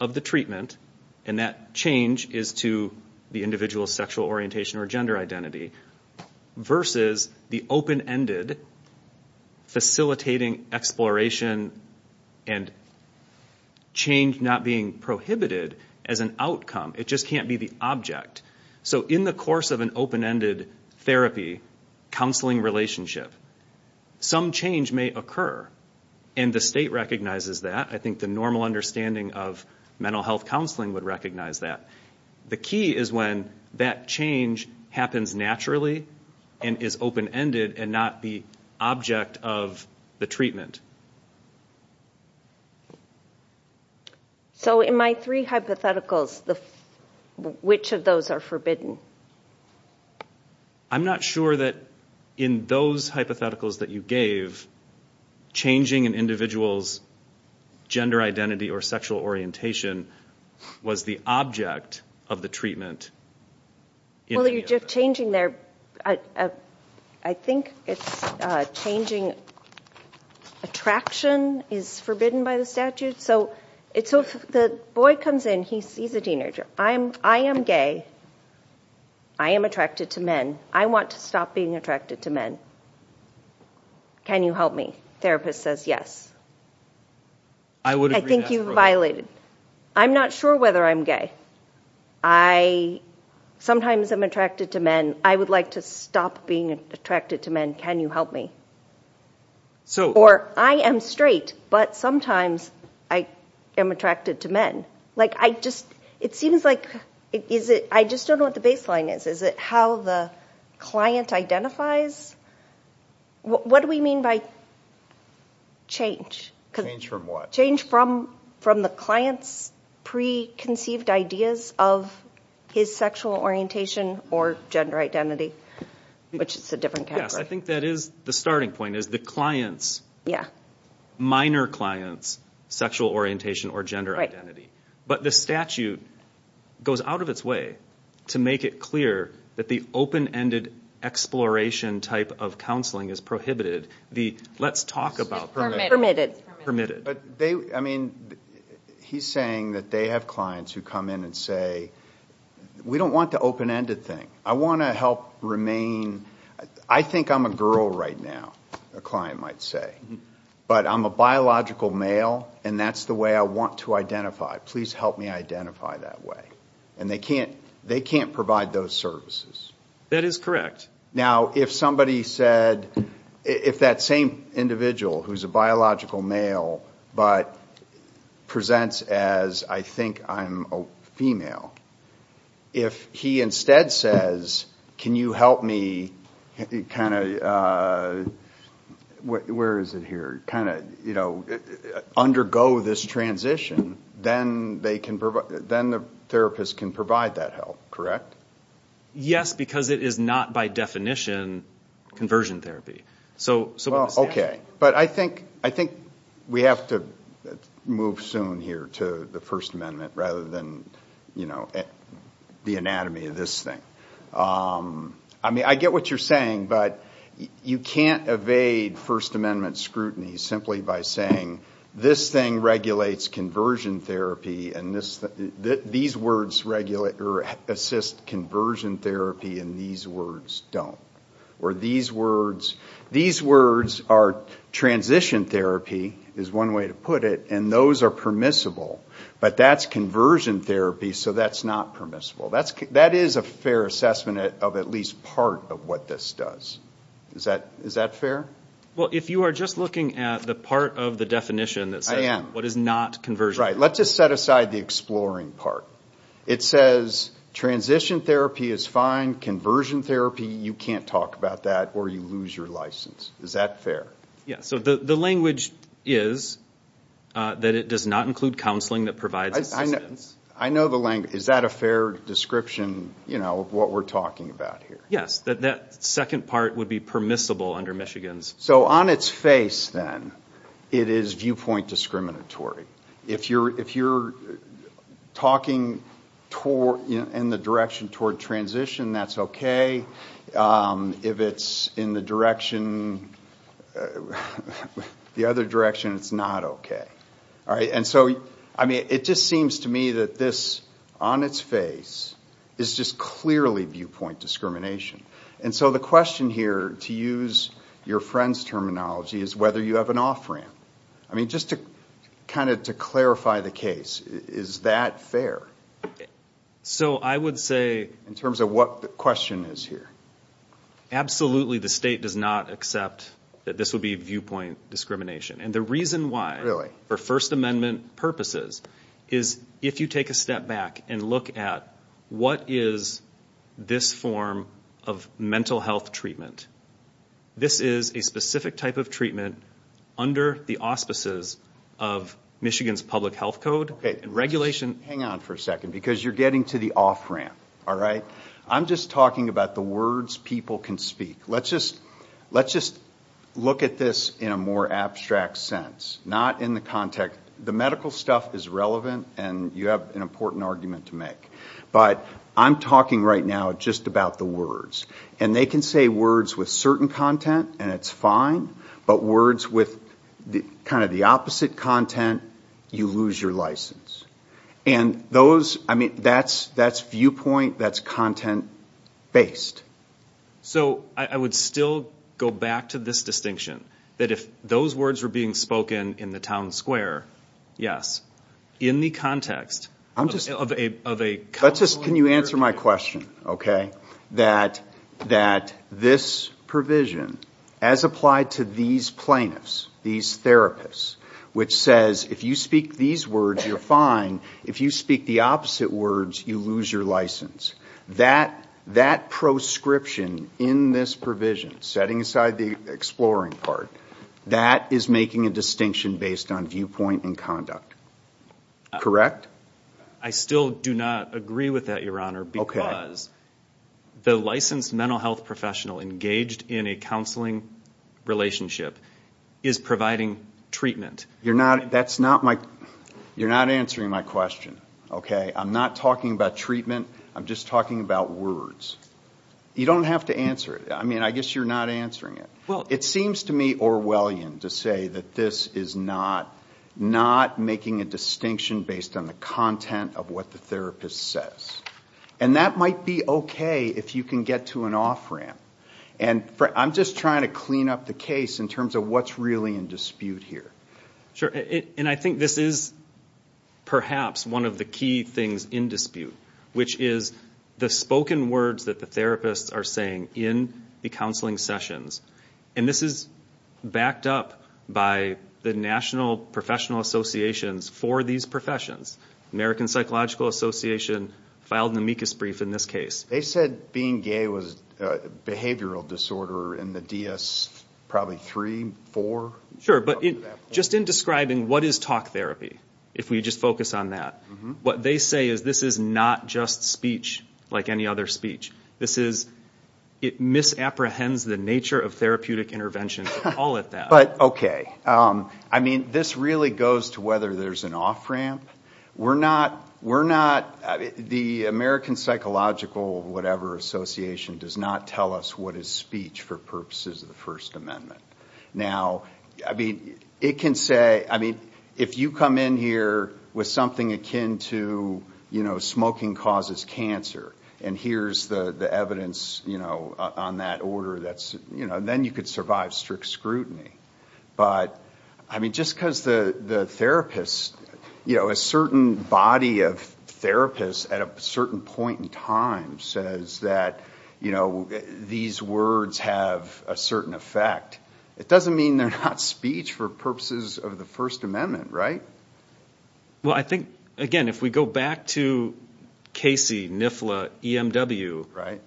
of the treatment and that change is to the individual's sexual orientation or gender identity versus the open-ended facilitating exploration and change not being prohibited as an outcome. It just can't be the object. So in the course of an open-ended therapy counseling relationship, some change may occur and the state recognizes that. I think the normal understanding of mental health counseling would recognize that. The key is when that change happens naturally and is open-ended and not the object of the treatment. So in my three hypotheticals, which of those are forbidden? I'm not sure that in those hypotheticals that you gave, changing an individual's gender identity or sexual orientation was the object of the treatment. Well, you're just changing their, I think it's changing a treatment. Attraction is forbidden by the statute. So if the boy comes in, he's a teenager, I am gay, I am attracted to men, I want to stop being attracted to men. Can you help me? Therapist says yes. I think you've violated. I'm not sure whether I'm gay. Sometimes I'm attracted to men. I would like to stop being attracted to men. Can you help me? Or I am straight, but sometimes I am attracted to men. It seems like, I just don't know what the baseline is. Is it how the client identifies? What do we mean by change? Change from what? Ideas of his sexual orientation or gender identity, which is a different category. Yes, I think that is the starting point, is the client's, minor client's sexual orientation or gender identity. But the statute goes out of its way to make it clear that the open-ended exploration type of counseling is prohibited. Let's talk about permitted. He's saying that they have clients who come in and say, we don't want the open-ended thing. I want to help remain, I think I'm a girl right now, a client might say. But I'm a biological male and that's the way I want to identify. Please help me identify that way. They can't provide those services. That is correct. Now if somebody said, if that same individual who is a biological male, but presents as I think I'm a female. If he instead says, can you help me, kind of, where is it here, kind of, you know, undergo this transition, then they can provide, then the therapist can provide that help, correct? Yes, because it is not by definition conversion therapy. Okay, but I think we have to move soon here to the First Amendment rather than, you know, the anatomy of this thing. I mean, I get what you're saying, but you can't evade First Amendment scrutiny simply by saying, this thing regulates conversion therapy and these words assist conversion therapy and these words don't. Or these words are transition therapy, is one way to put it, and those are permissible. But that's conversion therapy, so that's not permissible. That is a fair assessment of at least part of what this does. Is that fair? Well, if you are just looking at the part of the definition that says what is not conversion therapy. Right, let's just set aside the exploring part. It says transition therapy is fine, conversion therapy, you can't talk about that or you lose your license. Is that fair? Yeah, so the language is that it does not include counseling that provides assistance. I know the language. Is that a fair description, you know, of what we're talking about here? Yes, that second part would be permissible under Michigan's. So on its face then, it is viewpoint discriminatory. If you're talking in the direction toward transition, that's okay. If it's in the direction, the other direction, it's not okay. And so, I mean, it just seems to me that this, on its face, is just clearly viewpoint discrimination. And so the question here, to use your friend's terminology, is whether you have an off-ramp. I mean, just to kind of clarify the case, is that fair? So I would say, in terms of what the question is here, absolutely the state does not accept that this would be viewpoint discrimination. And the reason why, for First Amendment purposes, is if you take a step back and look at what is this form of mental health treatment, this is a specific type of treatment under the auspices of Michigan's public health code and regulation. Hang on for a second, because you're getting to the off-ramp, all right? I'm just talking about the words people can speak. Let's just look at this in a more abstract sense, not in the context. The medical stuff is relevant, and you have an important argument to make. But I'm talking right now just about the words. And they can say words with certain content, and it's fine, but words with kind of the opposite content, you lose your license. And those, I mean, that's viewpoint, that's content-based. So I would still go back to this distinction, that if those words were being spoken in the town square, yes, in the context of a couple of years ago. Can you answer my question, okay? That this provision, as applied to these plaintiffs, these therapists, which says if you speak these words, you're fine. If you speak the opposite words, you lose your license. That proscription in this provision, setting aside the exploring part, that is making a distinction based on viewpoint and conduct, correct? I still do not agree with that, Your Honor, because the licensed mental health professional engaged in a counseling relationship is providing treatment. That's not my, you're not answering my question, okay? I'm not talking about treatment, I'm just talking about words. You don't have to answer it. I mean, I guess you're not answering it. It seems to me Orwellian to say that this is not making a distinction based on the content of what the therapist says. And that might be okay if you can get to an off-ramp. And I'm just trying to clean up the case in terms of what's really in dispute here. Sure. And I think this is perhaps one of the key things in dispute, which is the spoken words that the therapists are saying in the counseling sessions. And this is backed up by the national professional associations for these professions. American Psychological Association filed an amicus brief in this case. They said being gay was a behavioral disorder in the DS probably three, four? Sure, but just in describing what is talk therapy, if we just focus on that, what they say is this is not just speech like any other speech. This is, it misapprehends the nature of therapeutic intervention, all of that. But okay. I mean, this really goes to whether there's an off-ramp. We're not, we're not, the American Psychological whatever association does not tell us what is speech for purposes of the First Amendment. Now, I mean, it can say, I mean, if you come in here with something akin to, you know, smoking causes cancer and here's the evidence, you know, on that order that's, you know, then you could survive strict scrutiny. But I mean, just because the therapist, you know, a certain body of therapists at a certain point in time says that, you know, these words have a certain effect, it doesn't mean they're not speech for purposes of the First Amendment, right? Well, I think, again, if we go back to Casey, NIFLA, EMW,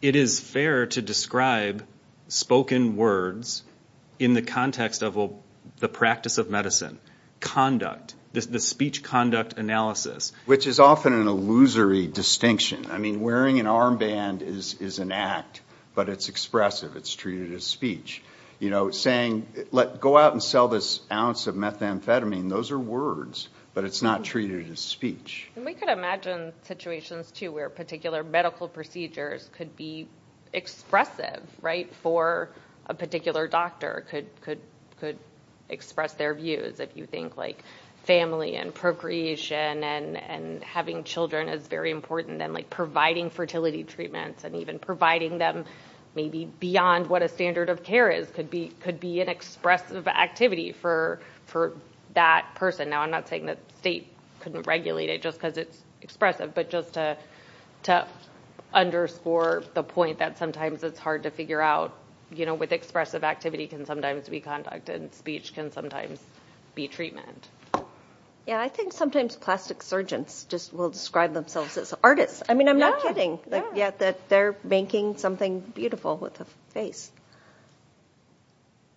it is fair to describe spoken words in the context of the practice of medicine, conduct, the speech conduct analysis. Which is often an illusory distinction. I mean, wearing an armband is an act, but it's expressive. It's treated as speech. You know, saying, go out and sell this ounce of methamphetamine, those are words, but it's not treated as speech. And we could imagine situations, too, where particular medical procedures could be expressive, right, for a particular doctor, could express their views. If you think, like, family and having children is very important, then, like, providing fertility treatments and even providing them maybe beyond what a standard of care is could be an expressive activity for that person. Now, I'm not saying that the state couldn't regulate it just because it's expressive, but just to underscore the point that sometimes it's hard to figure out, you know, with expressive activity can sometimes be conduct and speech can sometimes be treatment. Yeah, I think sometimes plastic surgeons just will describe themselves as artists. I mean, I'm not kidding. Yeah, that they're making something beautiful with a face.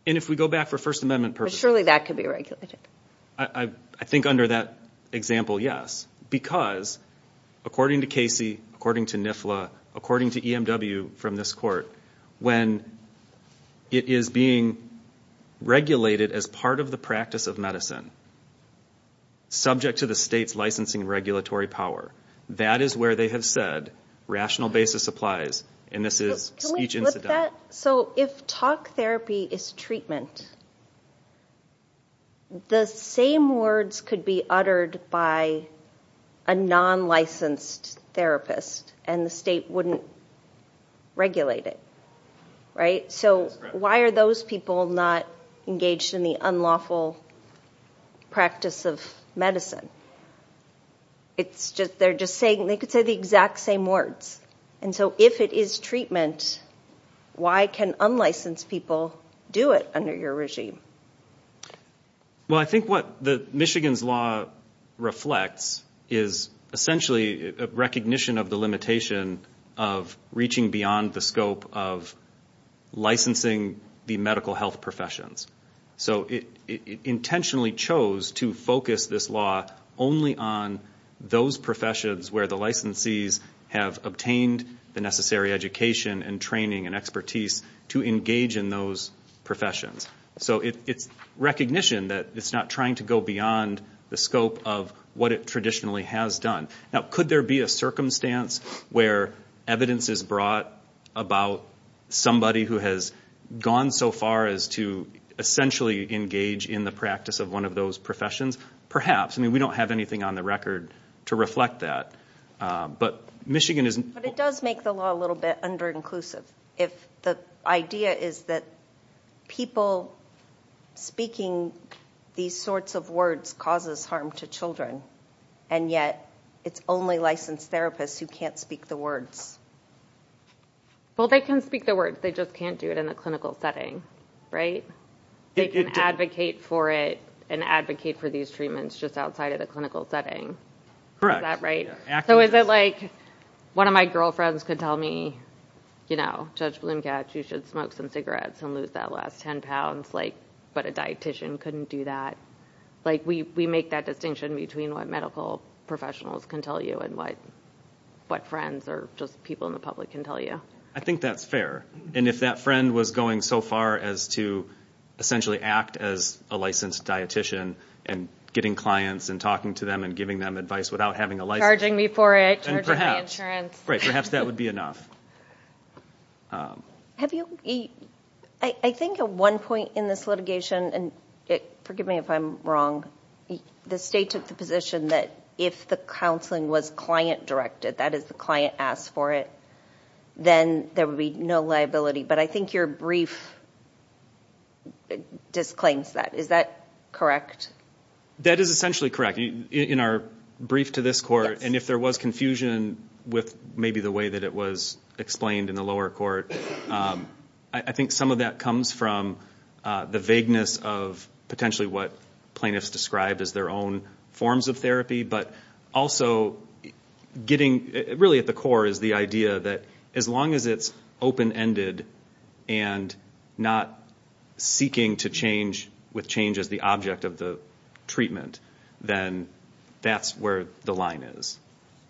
And if we go back for First Amendment purposes. Surely that could be regulated. I think under that example, yes, because according to Casey, according to NIFLA, according to EMW from this court, when it is being regulated as part of the practice of medicine, it's subject to the state's licensing regulatory power. That is where they have said rational basis applies, and this is speech incident. So if talk therapy is treatment, the same words could be uttered by a non-licensed therapist and the state wouldn't regulate it, right? So why are those people not engaged in the practice of medicine? It's just, they're just saying, they could say the exact same words. And so if it is treatment, why can unlicensed people do it under your regime? Well I think what the Michigan's law reflects is essentially a recognition of the limitation of reaching beyond the scope of licensing the medical health professions. So it intentionally chose to focus this law only on those professions where the licensees have obtained the necessary education and training and expertise to engage in those professions. So it's recognition that it's not trying to go beyond the scope of what it traditionally has done. Now could there be a circumstance where evidence is brought about somebody who has gone so far as to essentially engage in the practice of one of those professions? Perhaps. I mean we don't have anything on the record to reflect that. But it does make the law a little bit under-inclusive if the idea is that people speaking these sorts of words causes harm to children, and yet it's only licensed therapists who can't speak the words. Well they can speak the words, they just can't do it in a clinical setting, right? They can advocate for it and advocate for these treatments just outside of the clinical setting. Correct. Is that right? So is it like, one of my girlfriends could tell me, you know, Judge Bloomcatch you should smoke some cigarettes and lose that last 10 pounds, like, but a dietician couldn't do that. Like we make that distinction between what medical professionals can tell you and what friends or just people in the public can tell you. I think that's fair. And if that friend was going so far as to essentially act as a licensed dietician and getting clients and talking to them and giving them advice without having a license... Charging me for it, charging my insurance. Right, perhaps that would be enough. I think at one point in this litigation, and forgive me if I'm wrong, the state took the position that if the counseling was client-directed, that is the client asked for it, then there would be no liability. But I think your brief disclaims that. Is that correct? That is essentially correct. In our brief to this court, and if there was confusion with maybe the way that it was explained in the lower court, I think some of that comes from the vagueness of potentially what plaintiffs described as their own forms of therapy, but also getting really at the core is the idea that as long as it's open-ended and not seeking to change with change as the object of the treatment, then that's where the line is.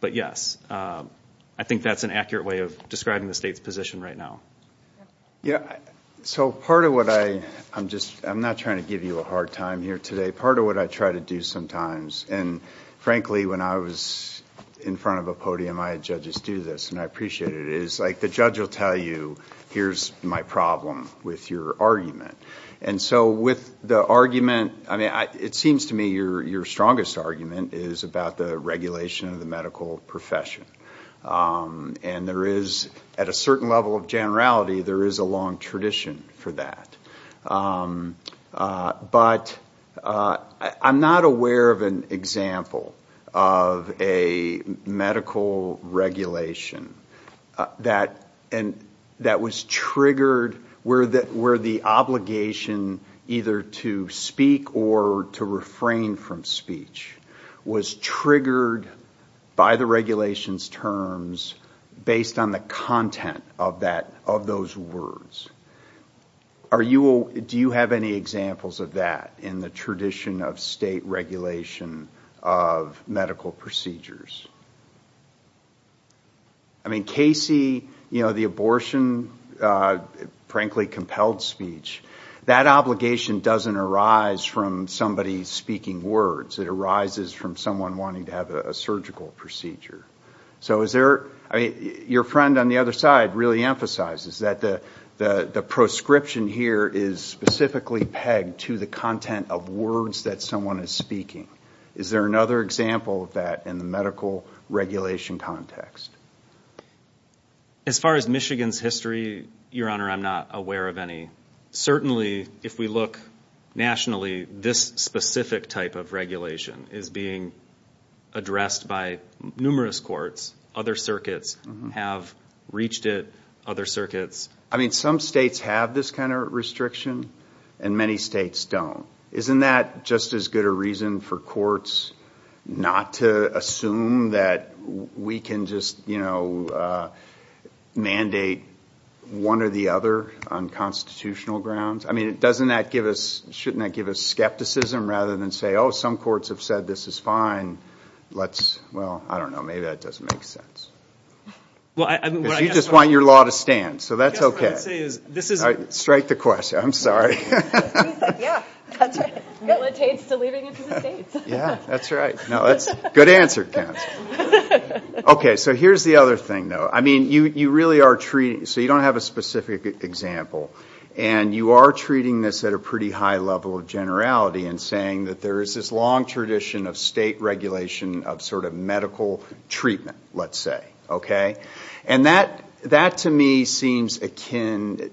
But yes, I think that's an accurate way of describing the state's position right now. Yeah, so part of what I... I'm not trying to give you a hard time here today. Part of what I try to do sometimes, and frankly when I was in front of a podium, I had judges do this and I appreciate it, is like the judge will tell you, here's my problem with your argument. And so with the argument, I mean, it seems to me your strongest argument is about the regulation of the medical profession. And there is, at a certain level of generality, there is a long tradition for that. But I'm not aware of an example of a medical regulation that was triggered where the obligation either to speak or to refrain from speech was triggered by the regulation's terms based on the content of those words. Do you have any examples of that in the tradition of state regulation of medical procedures? I mean, Casey, the abortion, frankly, compelled speech, that obligation doesn't arise from somebody speaking words. It arises from someone wanting to have a surgical procedure. So is there... I mean, your friend on the other side really emphasizes that the proscription here is specifically pegged to the content of words that someone is speaking. Is there another example of that in the medical regulation context? As far as Michigan's history, Your Honor, I'm not aware of any. Certainly, if we look nationally, this specific type of regulation is being addressed by numerous courts. Other circuits have reached it. Other circuits... I mean, some states have this kind of restriction, and many states don't. Isn't that just as good a reason for courts not to assume that we can just mandate one or the other on the unconstitutional grounds? I mean, doesn't that give us... shouldn't that give us skepticism rather than say, oh, some courts have said this is fine. Let's... well, I don't know. Maybe that doesn't make sense. You just want your law to stand, so that's okay. Strike the question. I'm sorry. Yeah. That's right. Good answer, counsel. Okay. So here's the other thing, though. I mean, you are treating this at a pretty high level of generality in saying that there is this long tradition of state regulation of sort of medical treatment, let's say, okay? And that, to me, seems akin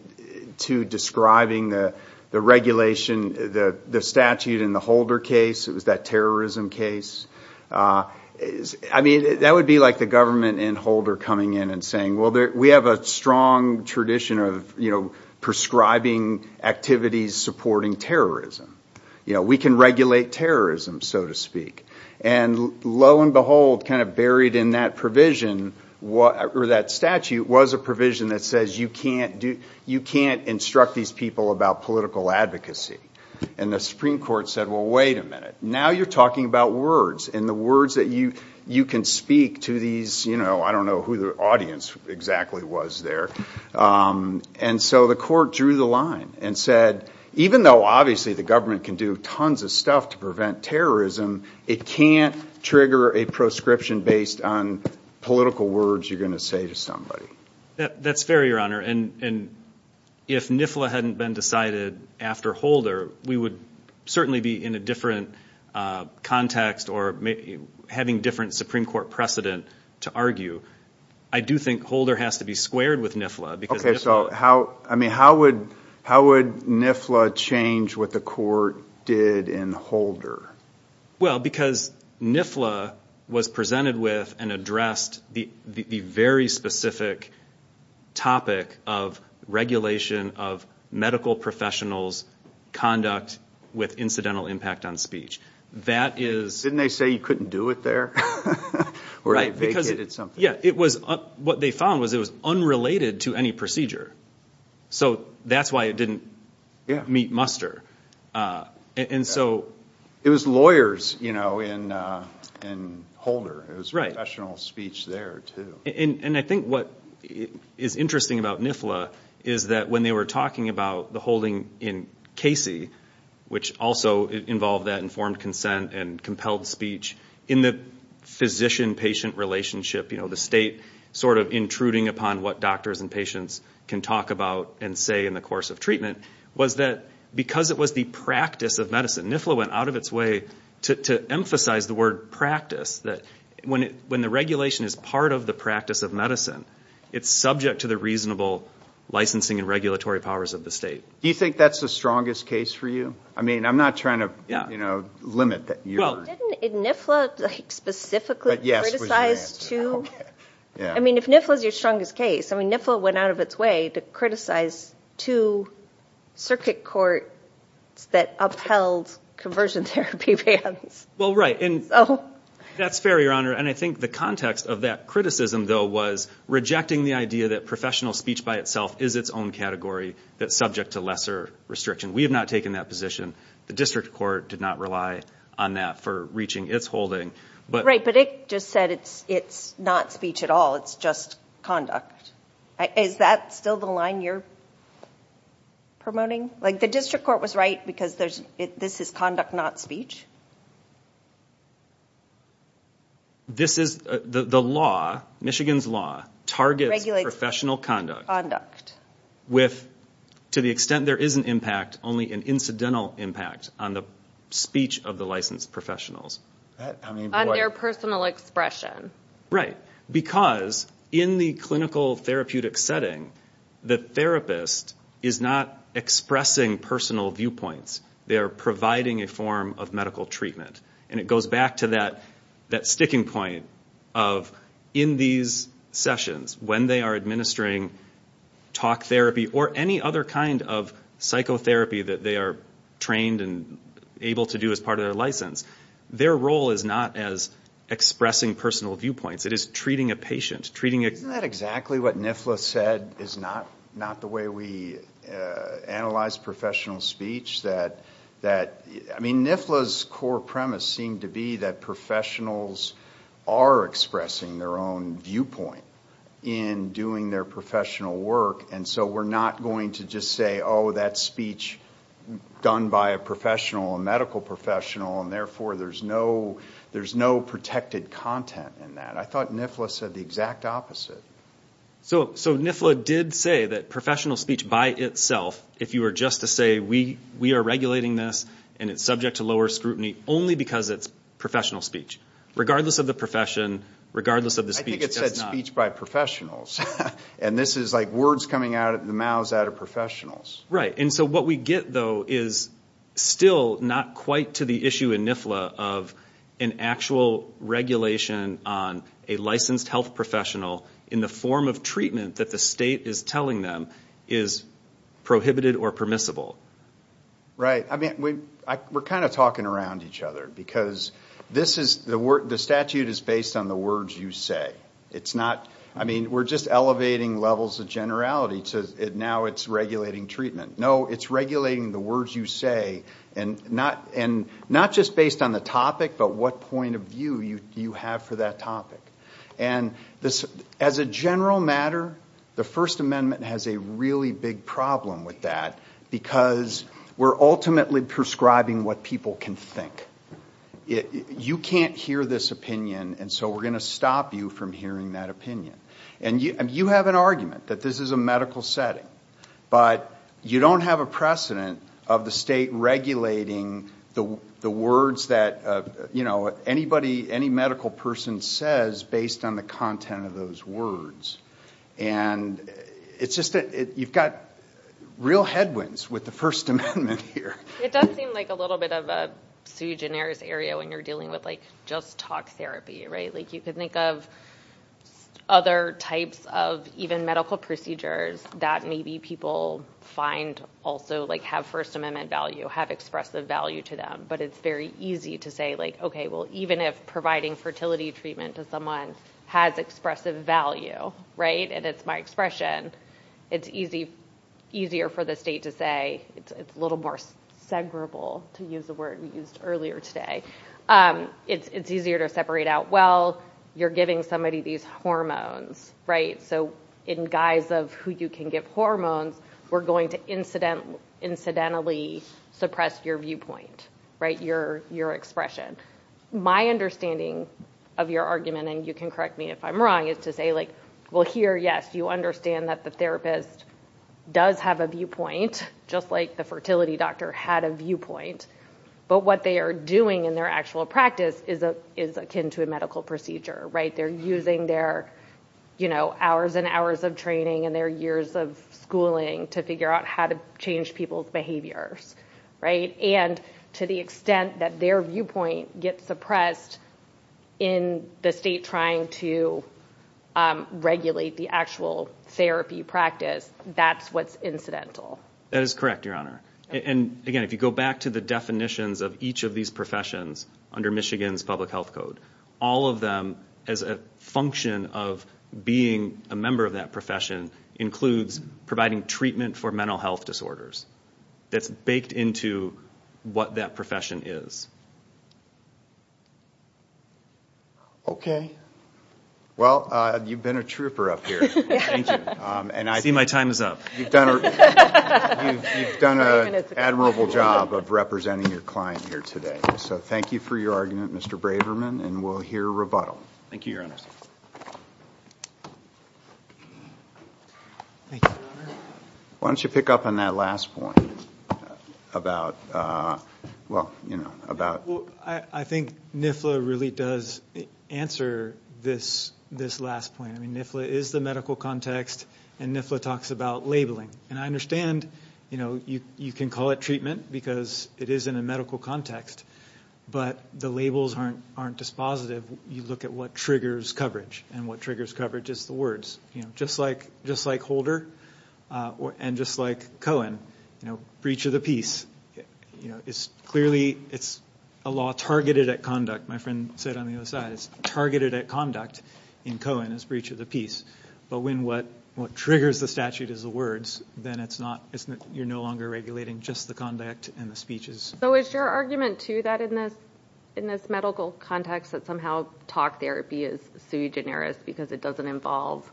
to describing the regulation, the statute in the Holder case. It was that terrorism case. I mean, that would be like the government in Holder coming in and saying, well, we have a strong tradition of prescribing activities supporting terrorism. We can regulate terrorism, so to speak. And lo and behold, kind of buried in that provision, or that statute, was a provision that says you can't instruct these people about political advocacy. And the Supreme Court said, well, wait a minute. Now you're talking about words, and the words that you can speak to these, I don't know who the audience exactly was there. And so the court drew the line and said, even though obviously the government can do tons of stuff to prevent terrorism, it can't trigger a proscription based on political words you're going to say to somebody. That's fair, Your Honor. And if NIFLA hadn't been decided after Holder, we would certainly be in a different context, or having different Supreme Court precedent to argue. I do think Holder has to be squared with NIFLA, because NIFLA... Okay, so how would NIFLA change what the court did in Holder? Well, because NIFLA was presented with and addressed the very specific topic of regulation of medical professionals' conduct with incidental impact on speech. Didn't they say you couldn't do it there? Right, because what they found was it was unrelated to any procedure. So that's why it didn't meet muster. It was lawyers in Holder. It was professional speech there, too. And I think what is interesting about NIFLA is that when they were talking about the holding in Casey, which also involved that informed consent and compelled speech in the physician-patient relationship, the state sort of intruding upon what doctors and patients can talk about and say in the course of treatment, was that because it was the practice of medicine, NIFLA went out of its way to emphasize the word practice, that when the regulation is part of the practice of medicine, it's subject to the reasonable licensing and regulatory powers of the state. Do you think that's the strongest case for you? I mean, I'm not trying to limit your... Well, didn't NIFLA specifically criticize two... I mean, if NIFLA's your strongest case, I mean, NIFLA went out of its way to criticize two circuit courts that upheld conversion therapy bans. Well, right. And that's fair, Your Honor. And I think the context of that criticism, though, was rejecting the idea that professional speech by itself is its own category that's subject to lesser restriction. We have not taken that position. The district court did not rely on that for reaching its holding. Right, but it just said it's not speech at all. It's just conduct. Is that still the line you're promoting? Like the district court was right because this is conduct, not speech? No. This is... The law, Michigan's law, targets professional conduct with, to the extent there is an impact, only an incidental impact on the speech of the licensed professionals. On their personal expression. Right. Because in the clinical therapeutic setting, the therapist is not expressing personal viewpoints. They are providing a form of medical treatment. And it goes back to that sticking point of, in these sessions, when they are administering talk therapy or any other kind of psychotherapy that they are trained and able to do as part of their license, their role is not as expressing personal viewpoints. It is treating a patient. Isn't that exactly what NIFLA said is not the way we analyze professional speech? NIFLA's core premise seemed to be that professionals are expressing their own viewpoint in doing their professional work. And so we're not going to just say, oh, that speech done by a professional, a medical professional, and therefore there's no protected content in that. I thought NIFLA said the exact opposite. So NIFLA did say that professional speech by itself, if you were just to say, we are regulating this and it's subject to lower scrutiny only because it's professional speech. Regardless of the profession, regardless of the speech, does not... I think it said speech by professionals. And this is like words coming out of the mouths out of professionals. Right. And so what we get, though, is still not quite to the issue in NIFLA of an actual regulation on a licensed health professional in the form of treatment that the state is telling them is prohibited or permissible. Right. I mean, we're kind of talking around each other because this is... the statute is based on the words you say. It's not... I mean, we're just elevating levels of generality to now it's regulating treatment. No, it's regulating the words you say and not just based on the topic, but what point of view you have for that topic. And as a general matter, the First Amendment has a really big problem with that because we're ultimately prescribing what people can think. You can't hear this opinion and so we're going to stop you from hearing that opinion. And you have an argument that this is a medical setting, but you don't have a precedent of the state regulating the words that, you know, anybody, any medical person says based on the content of those words. And it's just that you've got real headwinds with the First Amendment here. It does seem like a little bit of a Sue Giner's area when you're dealing with, like, just talk therapy, right? Like you could think of other types of even medical procedures that maybe people find also, like, have First Amendment value, have expressive value to them. But it's very easy to say, like, okay, well, even if providing fertility treatment to someone has expressive value, right, and it's my expression, it's easier for the state to say, it's a little more segregable to use the word we used earlier today. It's easier to separate out, well, you're giving somebody these hormones, right? So in guise of who you can give hormones, we're going to incidentally suppress your viewpoint, right, your expression. My understanding of your argument, and you can correct me if I'm wrong, is to say, like, well here, yes, you understand that the therapist does have a viewpoint, just like the fertility doctor had a viewpoint. But what they are doing in their actual practice is akin to a medical procedure, right? They're using their, you know, hours and hours of training and their years of schooling to figure out how to change people's behaviors, right? And to the extent that their viewpoint gets suppressed in the state trying to regulate the actual therapy practice, that's what's incidental. That is correct, Your Honor. And again, if you go back to the definitions of each of these professions under Michigan's public health code, all of them, as a function of being a member of that profession, includes providing treatment for mental health disorders. That's baked into what that profession is. Okay. Well, you've been a trooper up here, ain't you? And I see my time is up. You've done an admirable job of representing your client here today. So thank you for your argument, Mr. Braverman, and we'll hear a rebuttal. Thank you, Your Honor. Thank you, Your Honor. Why don't you pick up on that last point about, well, you know, I think NIFLA really does answer this last point. I mean, NIFLA is the medical context and NIFLA talks about labeling. And I understand, you know, you can call it treatment because it is in a medical context, but the labels aren't dispositive. You look at what triggers coverage and what triggers coverage is the words. You know, just like Holder and just like Cohen, you know, breach of the peace, you know, it's clearly, it's a law targeted at conduct. My friend said on the other side, it's targeted at conduct in Cohen as breach of the peace. But when what triggers the statute is the words, then it's not, you're no longer regulating just the conduct and the speeches. So is your argument, too, that in this medical context that somehow talk therapy is sui generis because it doesn't involve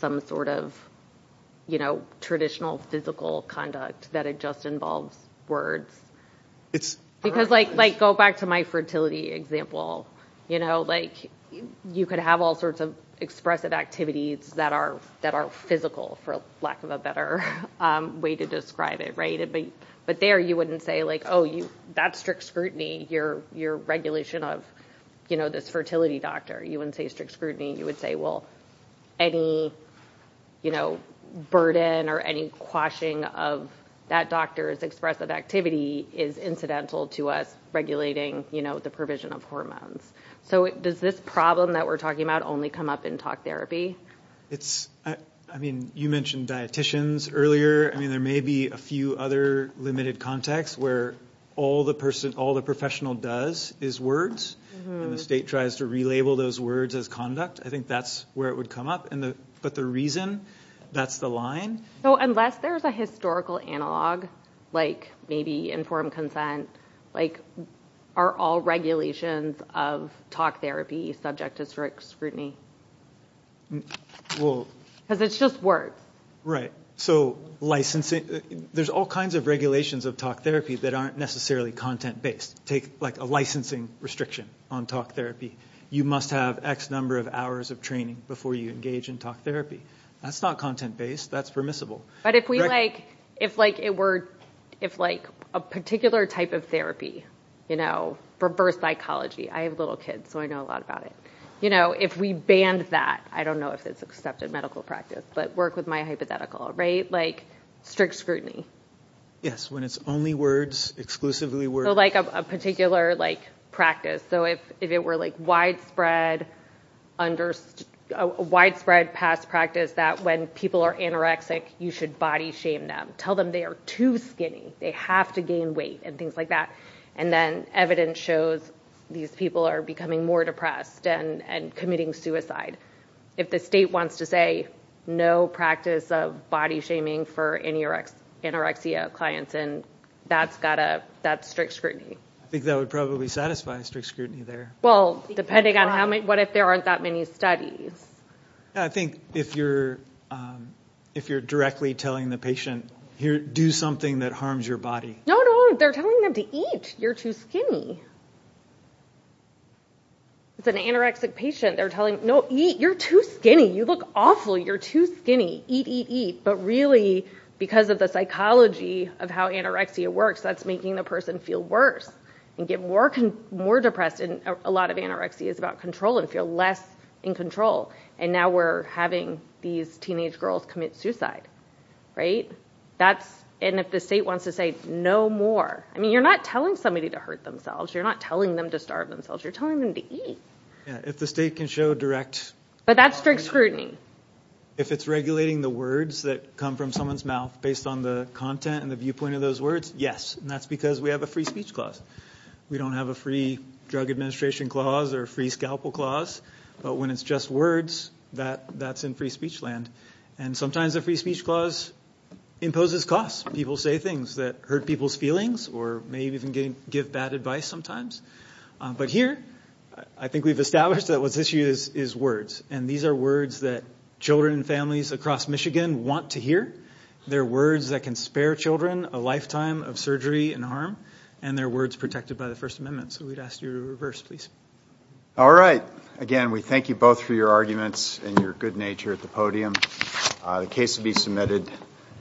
some sort of, you know, traditional physical conduct that it just involves words? Because like, go back to my fertility example, you know, like you could have all sorts of expressive activities that are physical for lack of a better way to describe it, right? But there you wouldn't say like, oh, that's strict scrutiny, your regulation of, you know, this fertility doctor, you wouldn't say strict scrutiny, you would say, well, any, you know, burden or any quashing of that doctor's expressive activity is incidental to us regulating, you know, the provision of hormones. So does this problem that we're talking about only come up in talk therapy? It's, I mean, you mentioned dieticians earlier. I mean, there may be a few other limited contexts where all the person, all the professional does is words, and the state tries to relabel those words as conduct. I think that's where it would come up. And the, but the reason that's the line. So unless there's a historical analog, like maybe informed consent, like, are all regulations of talk therapy subject to strict scrutiny? Well, because it's just words, Right. So licensing, there's all kinds of regulations of talk therapy that aren't necessarily content based. Take like a licensing restriction on talk therapy. You must have X number of hours of training before you engage in talk therapy. That's not content based, that's permissible. But if we like, if like it were, if like a particular type of therapy, you know, for birth psychology, I have little kids, so I know a lot about it. You know, if we banned that, I don't know if it's accepted medical practice, but work with my hypothetical, right? Like strict scrutiny. Yes, when it's only words, exclusively words. So like a particular like practice. So if it were like widespread, under widespread past practice that when people are anorexic, you should body shame them, tell them they are too skinny, they have to gain weight and things like that. And then evidence shows these people are becoming more depressed and committing suicide. If the state wants to say no practice of body shaming for anorexia clients, then that's got to, that's strict scrutiny. I think that would probably satisfy strict scrutiny there. Well, depending on how many, what if there aren't that many studies? I think if you're, if you're directly telling the patient, here, do something that harms your body. No, no. They're telling them to eat. You're too skinny. It's an anorexic patient. They're telling, no, eat. You're too skinny. You look awful. You're too skinny. Eat, eat, eat. But really, because of the psychology of how anorexia works, that's making the person feel worse and get more, more depressed. And a lot of anorexia is about control and feel less in control. And now we're having these teenage girls commit suicide. Right. That's, and if the state wants to say no more, I mean, you're not telling somebody to hurt themselves. You're not telling them to starve themselves. You're telling them to eat. If the state can show direct. But that's strict scrutiny. If it's regulating the words that come from someone's mouth based on the content and the viewpoint of those words. Yes. And that's because we have a free speech clause. We don't have a free drug administration clause or free scalpel clause. But when it's just words that that's in free speech land. And sometimes a free speech clause imposes costs. People say things that hurt people's feelings or maybe even give bad advice sometimes. But here, I think we've established that what's issue is, is words. And these are words that children and families across Michigan want to hear. They're words that can spare children a lifetime of surgery and harm. And they're words protected by the First Amendment. So we'd ask you to reverse, please. All right. Again, we thank you both for your arguments and your good nature at the podium. The case to be submitted.